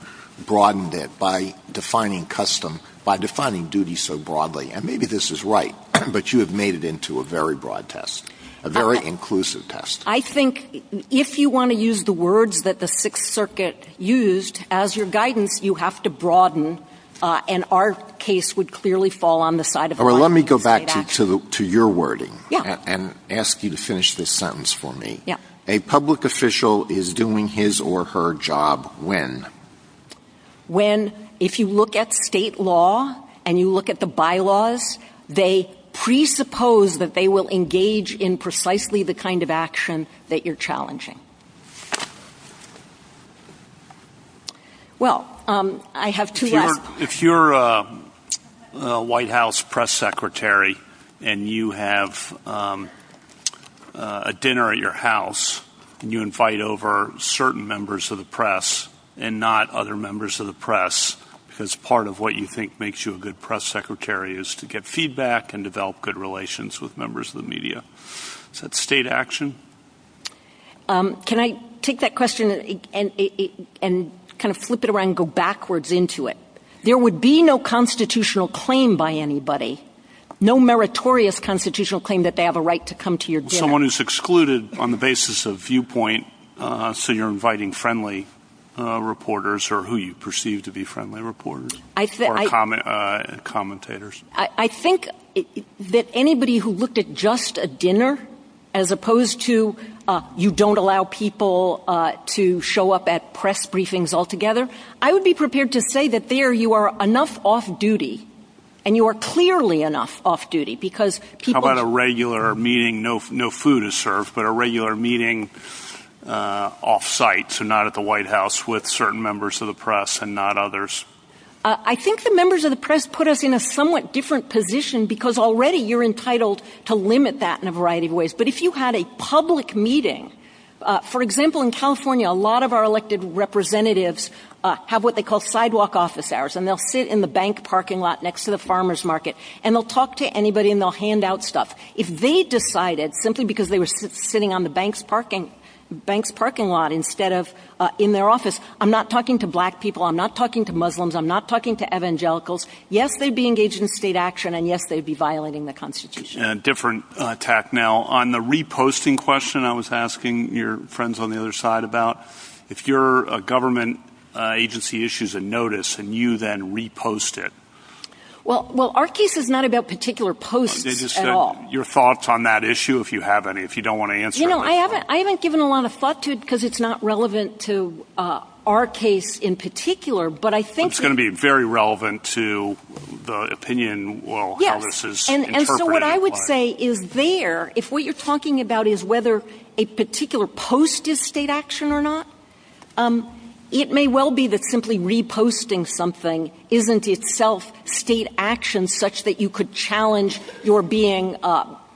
broadened it by defining custom by defining duty. So broadly, and maybe this is right, but you have made it into a very broad test, a very inclusive test. I think if you want to use the words that the sixth circuit used as your guidance, you have to broaden and our case would clearly fall on the side of, or let me go back to, to the, to your wording and ask you to finish this sentence for me. Yeah. A public official is doing his or her job. When, when, if you look at state law and you look at the bylaws, they presuppose that they will engage in precisely the kind of action that you're challenging. Well, I have two, if you're a white house press secretary and you have a dinner at your house and you invite over certain members of the press and not other members of the press, because part of what you think makes you a good press secretary is to get feedback and develop good relations with members of the media. Is that state action? Can I take that question and, and kind of flip it around and go backwards into it? There would be no constitutional claim by anybody, no meritorious constitutional claim that they have a right to come to your dinner. Someone who's excluded on the basis of viewpoint. So you're inviting friendly reporters or who you perceive to be friendly reporters, commentators. I think that anybody who looked at just a dinner, as opposed to you, don't allow people to show up at press briefings altogether. I would be prepared to say that there you are enough off duty and you are clearly enough off duty because. How about a regular meeting? No food is served, but a regular meeting off site. So not at the white house with certain members of the press and not others. I think the members of the press put us in a somewhat different position because already you're entitled to limit that in a variety of ways. But if you had a public meeting, for example, in California, a lot of our elected representatives have what they call sidewalk office hours and they'll sit in the bank parking lot next to the farmer's market and they'll talk to anybody and they'll hand out stuff. If they decided simply because they were sitting on the banks, parking banks, parking lot, instead of in their office, I'm not talking to black people. I'm not talking to Muslims. I'm not talking to evangelicals. Yes. They'd be engaged in state action and yes, they'd be violating the constitution. A different attack. Now on the reposting question I was asking your friends on the other side about if you're a government agency, if you have any issues of notice and you then repost it. Well, our case is not about particular posts at all. Your thoughts on that issue, if you have any, if you don't want to answer. I haven't given a lot of thought to it because it's not relevant to our case in particular, but I think it's going to be very relevant to the opinion. Well, this is what I would say is there. If what you're talking about is whether a particular post is state action or not, it may well be that simply reposting something isn't itself state action such that you could challenge your being,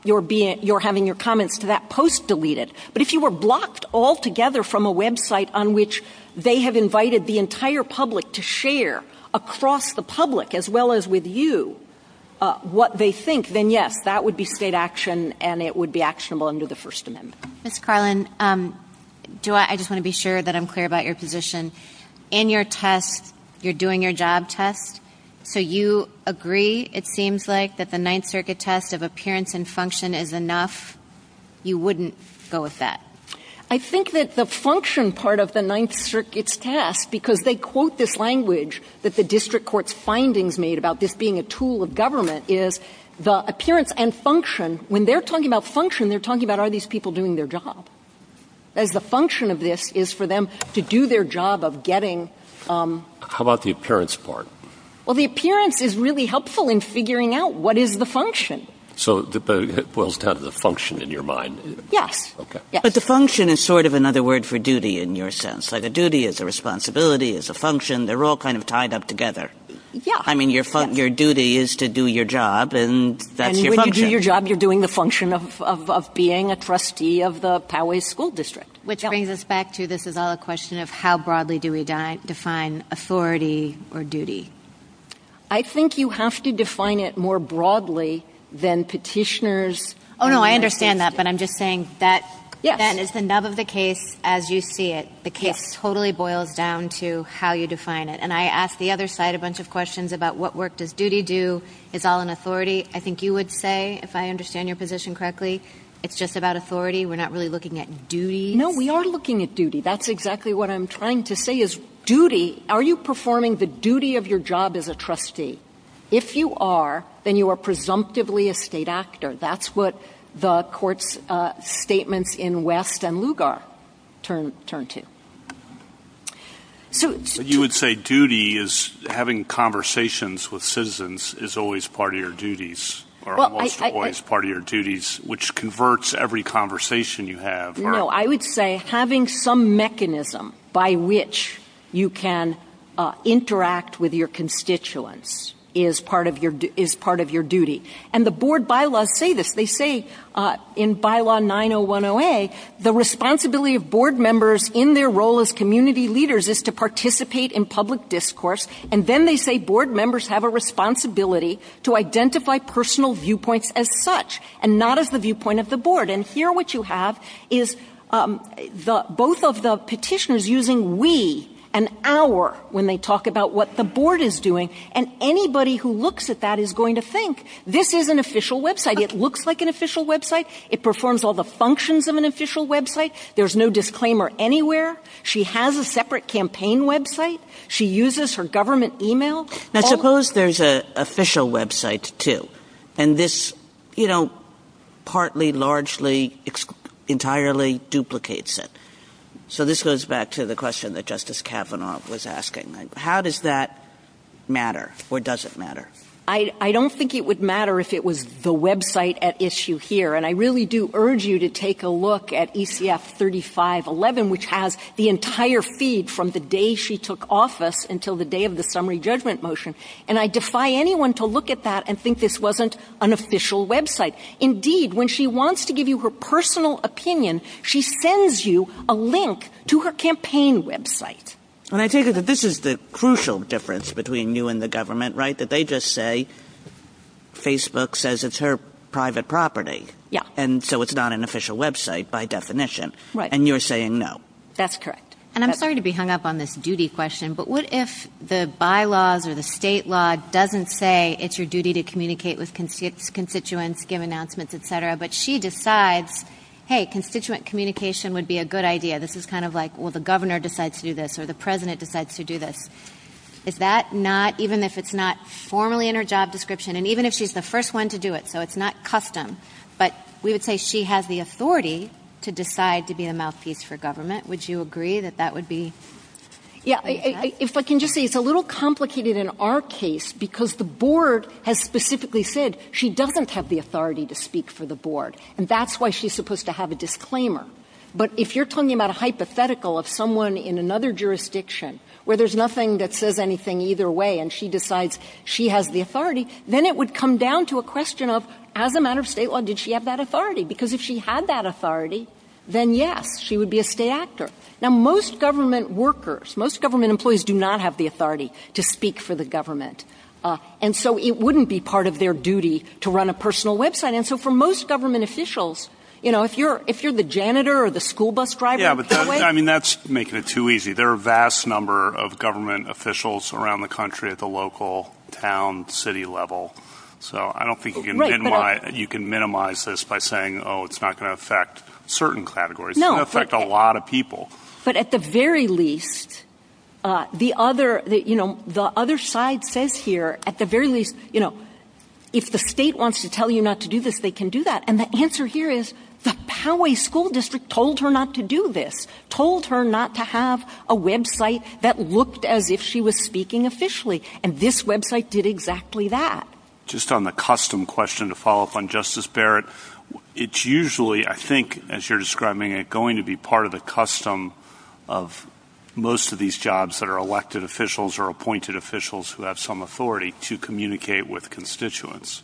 you're having your comments to that post deleted. But if you were blocked altogether from a website on which they have invited the entire public to share across the public as well as with you, what they think, then yes, that would be state action and it would be actionable under the first amendment. Ms. Carlin, I just want to be sure that I'm clear about your position. In your test, you're doing your job test. So you agree, it seems like, that the Ninth Circuit test of appearance and function is enough. You wouldn't go with that. I think that the function part of the Ninth Circuit's test, because they quote this language that the district court's findings made about this being a tool of government, is the appearance and function. When they're talking about function, they're talking about, are these people doing their job? As the function of this is for them to do their job of getting. How about the appearance part? Well, the appearance is really helpful in figuring out what is the function. So it boils down to the function in your mind. Yeah. But the function is sort of another word for duty in your sense. Like a duty is a responsibility, is a function. They're all kind of tied up together. Yeah. I mean, your duty is to do your job and that's your function. If you do your job, you're doing the function of being a trustee of the Poway School District. Which brings us back to, this is all a question of how broadly do we define authority or duty? I think you have to define it more broadly than petitioners. Oh, no, I understand that, but I'm just saying that is enough of the case as you see it. The case totally boils down to how you define it. And I asked the other side a bunch of questions about what work does duty do? Is all an authority? I think you would say, if I understand your position correctly, it's just about authority. We're not really looking at duty. No, we are looking at duty. That's exactly what I'm trying to say is duty. Are you performing the duty of your job as a trustee? If you are, then you are presumptively a state actor. That's what the court's statements in West and Lugar turn to. You would say duty is having conversations with citizens is always part of your duties, or almost always part of your duties, which converts every conversation you have. No, I would say having some mechanism by which you can interact with your constituents is part of your duty. And the board bylaws say this. They say the responsibility of board members in their role as community leaders is to participate in public discourse, and then they say board members have a responsibility to identify personal viewpoints as such, and not as the viewpoint of the board. And here what you have is both of the petitioners using we and our when they talk about what the board is doing, and anybody who looks at that is going to think, this is an official website. It looks like an official website. It performs all the functions of an official website. There's no disclaimer anywhere. She has a separate campaign website. She uses her government email. Now suppose there's an official website, too, and this partly, largely, entirely duplicates it. So this goes back to the question that Justice Kavanaugh was asking. How does that matter, or does it matter? I don't think it would matter if it was the website at issue here, and I really do urge you to take a look at ECF 3511, which has the entire feed from the day she took office until the day of the summary judgment motion, and I defy anyone to look at that and think this wasn't an official website. Indeed, when she wants to give you her personal opinion, she sends you a link to her campaign website. And I take it that this is the crucial difference between you and the government, right, that they just say Facebook says it's her private property, and so it's not an official website by definition, and you're saying no. That's correct. And I'm sorry to be hung up on this duty question, but what if the bylaws or the state law doesn't say it's your duty to communicate with constituents, give announcements, et cetera, but she decides, hey, constituent communication would be a good idea. This is kind of like, well, the governor decides to do this or the president decides to do this. Is that not, even if it's not formally in her job description, and even if she's the first one to do it, so it's not custom, but we would say she has the authority to decide to be a mouthpiece for government. Would you agree that that would be? Yeah. If I can just say it's a little complicated in our case because the board has specifically said she doesn't have the authority to speak for the board, and that's why she's supposed to have a disclaimer. But if you're talking about a hypothetical of someone in another jurisdiction where there's nothing that says anything either way and she decides she has the authority, then it would come down to a question of, as a matter of state law, did she have that authority? Because if she had that authority, then, yes, she would be a stay actor. Now, most government workers, most government employees do not have the authority to speak for the government, and so it wouldn't be part of their duty to run a personal website. And so for most government officials, you know, if you're the janitor or the school bus driver, I mean, that's making it too easy. There are a vast number of government officials around the country at the local, town, city level. So I don't think you can minimize this by saying, oh, it's not going to affect certain categories. It's going to affect a lot of people. But at the very least, the other side says here, at the very least, you know, if the state wants to tell you not to do this, they can do that. And the answer here is the Poway School District told her not to do this, told her not to have a website that looked as if she was speaking officially, and this website did exactly that. Just on the custom question to follow up on, Justice Barrett, it's usually, I think, as you're describing it, going to be part of the custom of most of these jobs that are elected officials or appointed officials who have some authority to communicate with constituents.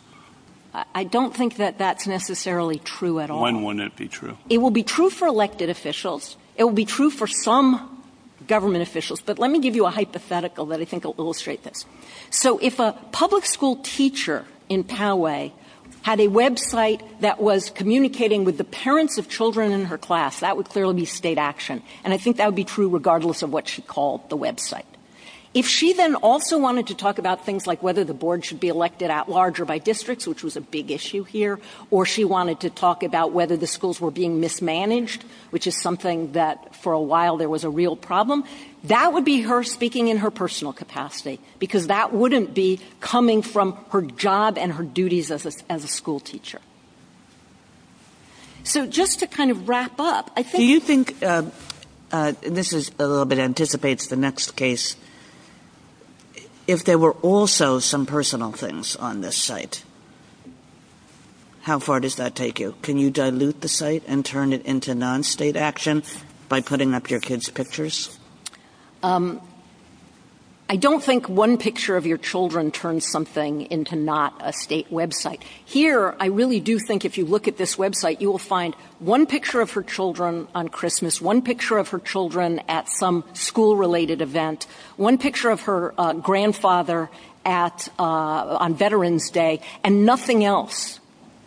I don't think that that's necessarily true at all. When would it be true? It will be true for elected officials. It will be true for some government officials. But let me give you a hypothetical that I think will illustrate this. So if a public school teacher in Poway had a website that was communicating with the parents of children in her class, that would clearly be state action. And I think that would be true regardless of what she called the website. If she then also wanted to talk about things like whether the board should be elected at large or by districts, which was a big issue here, or she wanted to talk about whether the schools were being mismanaged, which is something that for a while there was a real problem, that would be her speaking in her personal capacity because that wouldn't be coming from her job and her duties as a schoolteacher. So just to kind of wrap up, I think... This is a little bit anticipates the next case. If there were also some personal things on this site, how far does that take you? Can you dilute the site and turn it into non-state action by putting up your kids' pictures? I don't think one picture of your children turns something into not a state website. Here, I really do think if you look at this website, you will find one picture of her children on Christmas, one picture of her children at some school-related event, one picture of her grandfather on Veterans Day, and nothing else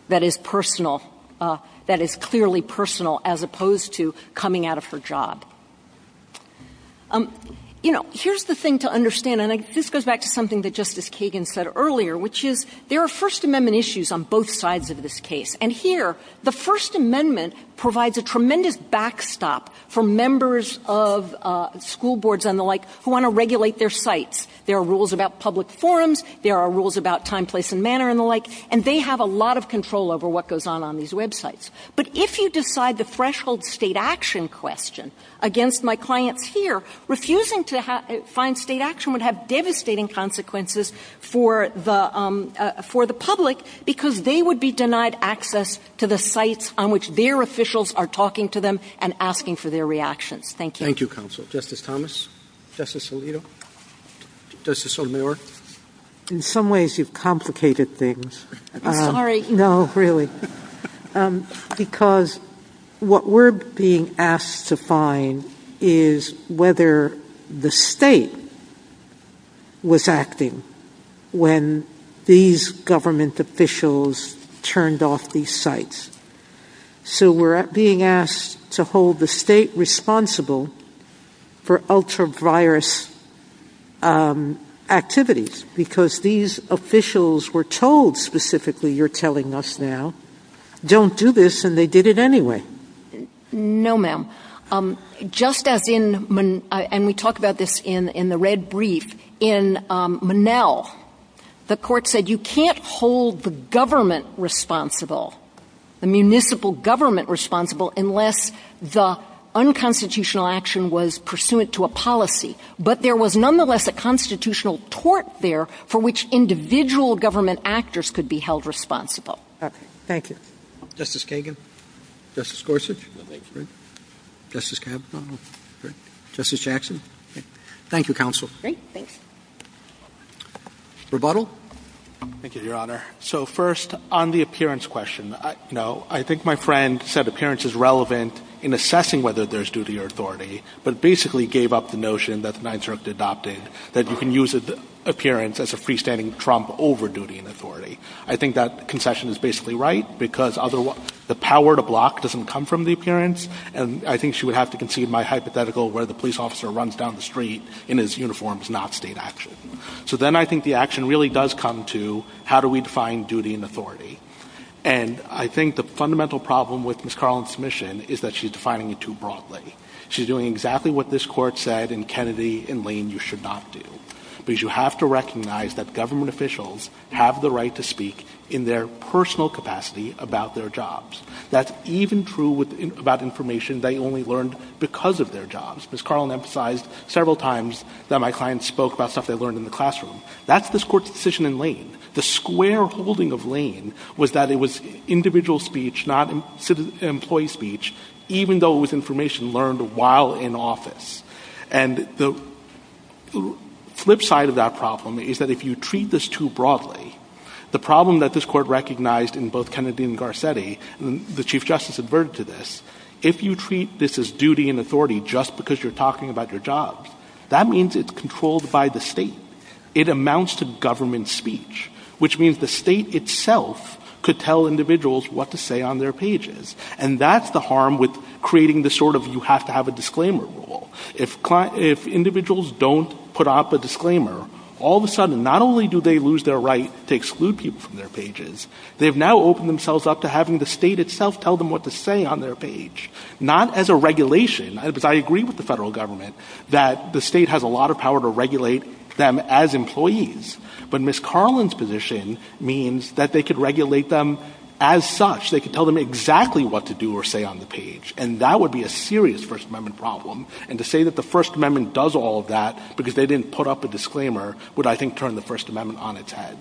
that is clearly personal as opposed to coming out of her job. Here's the thing to understand, and this goes back to something that Justice Kagan said earlier, which is there are First Amendment issues on both sides of this case. And here, the First Amendment provides a tremendous backstop for members of school boards and the like who want to regulate their sites. There are rules about public forums. There are rules about time, place, and manner and the like, and they have a lot of control over what goes on on these websites. But if you decide the threshold state action question against my clients here, refusing to find state action would have devastating consequences for the public because they would be denied access to the sites on which their officials are talking to them and asking for their reaction. Thank you. Thank you, Counsel. Justice Thomas? Justice Alito? Justice O'Mayor? In some ways, you've complicated things. I'm sorry. No, really. Because what we're being asked to find is whether the state was acting when these government officials turned off these sites. So we're being asked to hold the state responsible for ultra-virus activities because these officials were told specifically, you're telling us now, don't do this and they did it anyway. No, ma'am. Just as in the red brief, in Monell, the court said you can't hold the government responsible, the municipal government responsible, unless the unconstitutional action was pursuant to a policy. But there was nonetheless a constitutional tort there for which individual government actors could be held responsible. Thank you. Justice Kagan? Justice Gorsuch? Justice Kavanaugh? Justice Jackson? Thank you, Counsel. Rebuttal? Thank you, Your Honor. So first, on the appearance question, I think my friend said appearance is relevant in assessing whether there's duty or authority, but basically gave up the notion that the Ninth Circuit adopted that you can use appearance as a freestanding trump over duty and authority. I think that concession is basically right because the power to block doesn't come from the appearance, and I think she would have to concede my hypothetical where the police officer runs down the street in his uniform is not state action. So then I think the action really does come to how do we define duty and authority. And I think the fundamental problem with Ms. Carlin's submission is that she's defining it too broadly. She's doing exactly what this Court said in Kennedy in Lane you should not do, because you have to recognize that government officials have the right to speak in their personal capacity about their jobs. That's even true about information they only learned because of their jobs. Ms. Carlin emphasized several times that my client spoke about stuff they learned in the classroom. That's this Court's decision in Lane. The square holding of Lane was that it was individual speech, not employee speech, even though it was information learned while in office. And the flip side of that problem is that if you treat this too broadly, the problem that this Court recognized in both Kennedy and Garcetti, the Chief Justice adverted to this, if you treat this as duty and authority just because you're talking about your job, that means it's controlled by the state. It amounts to government speech, which means the state itself could tell individuals what to say on their pages, and that's the harm with creating the sort of you have to have a disclaimer rule. If individuals don't put up a disclaimer, all of a sudden not only do they lose their right to exclude people from their pages, they have now opened themselves up to having the state itself tell them what to say on their page, not as a regulation. I agree with the federal government that the state has a lot of power to regulate them as employees, but Ms. Carlin's position means that they could regulate them as such. They could tell them exactly what to do or say on the page, and that would be a serious First Amendment problem. And to say that the First Amendment does all of that because they didn't put up a disclaimer would, I think, turn the First Amendment on its head.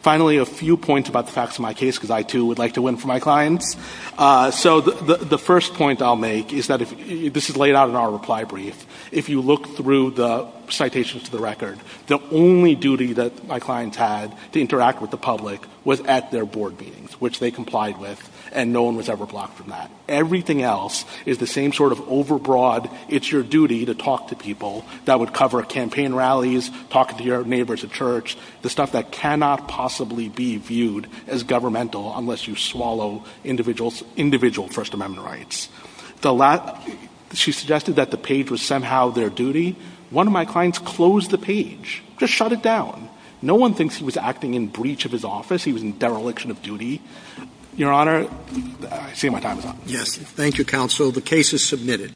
Finally, a few points about the facts of my case, because I, too, would like to win for my clients. So the first point I'll make is that this is laid out in our reply brief. If you look through the citations to the record, the only duty that my clients had to interact with the public was at their board meetings, which they complied with, and no one was ever blocked from that. Everything else is the same sort of over-broad, it's your duty to talk to people that would cover campaign rallies, talk to your neighbors at church, the stuff that cannot possibly be viewed as governmental unless you swallow individual First Amendment rights. She suggested that the page was somehow their duty. One of my clients closed the page, just shut it down. No one thinks he was acting in breach of his office, he was in dereliction of duty. Your Honor, I see my time is up. Thank you, counsel. The case is submitted.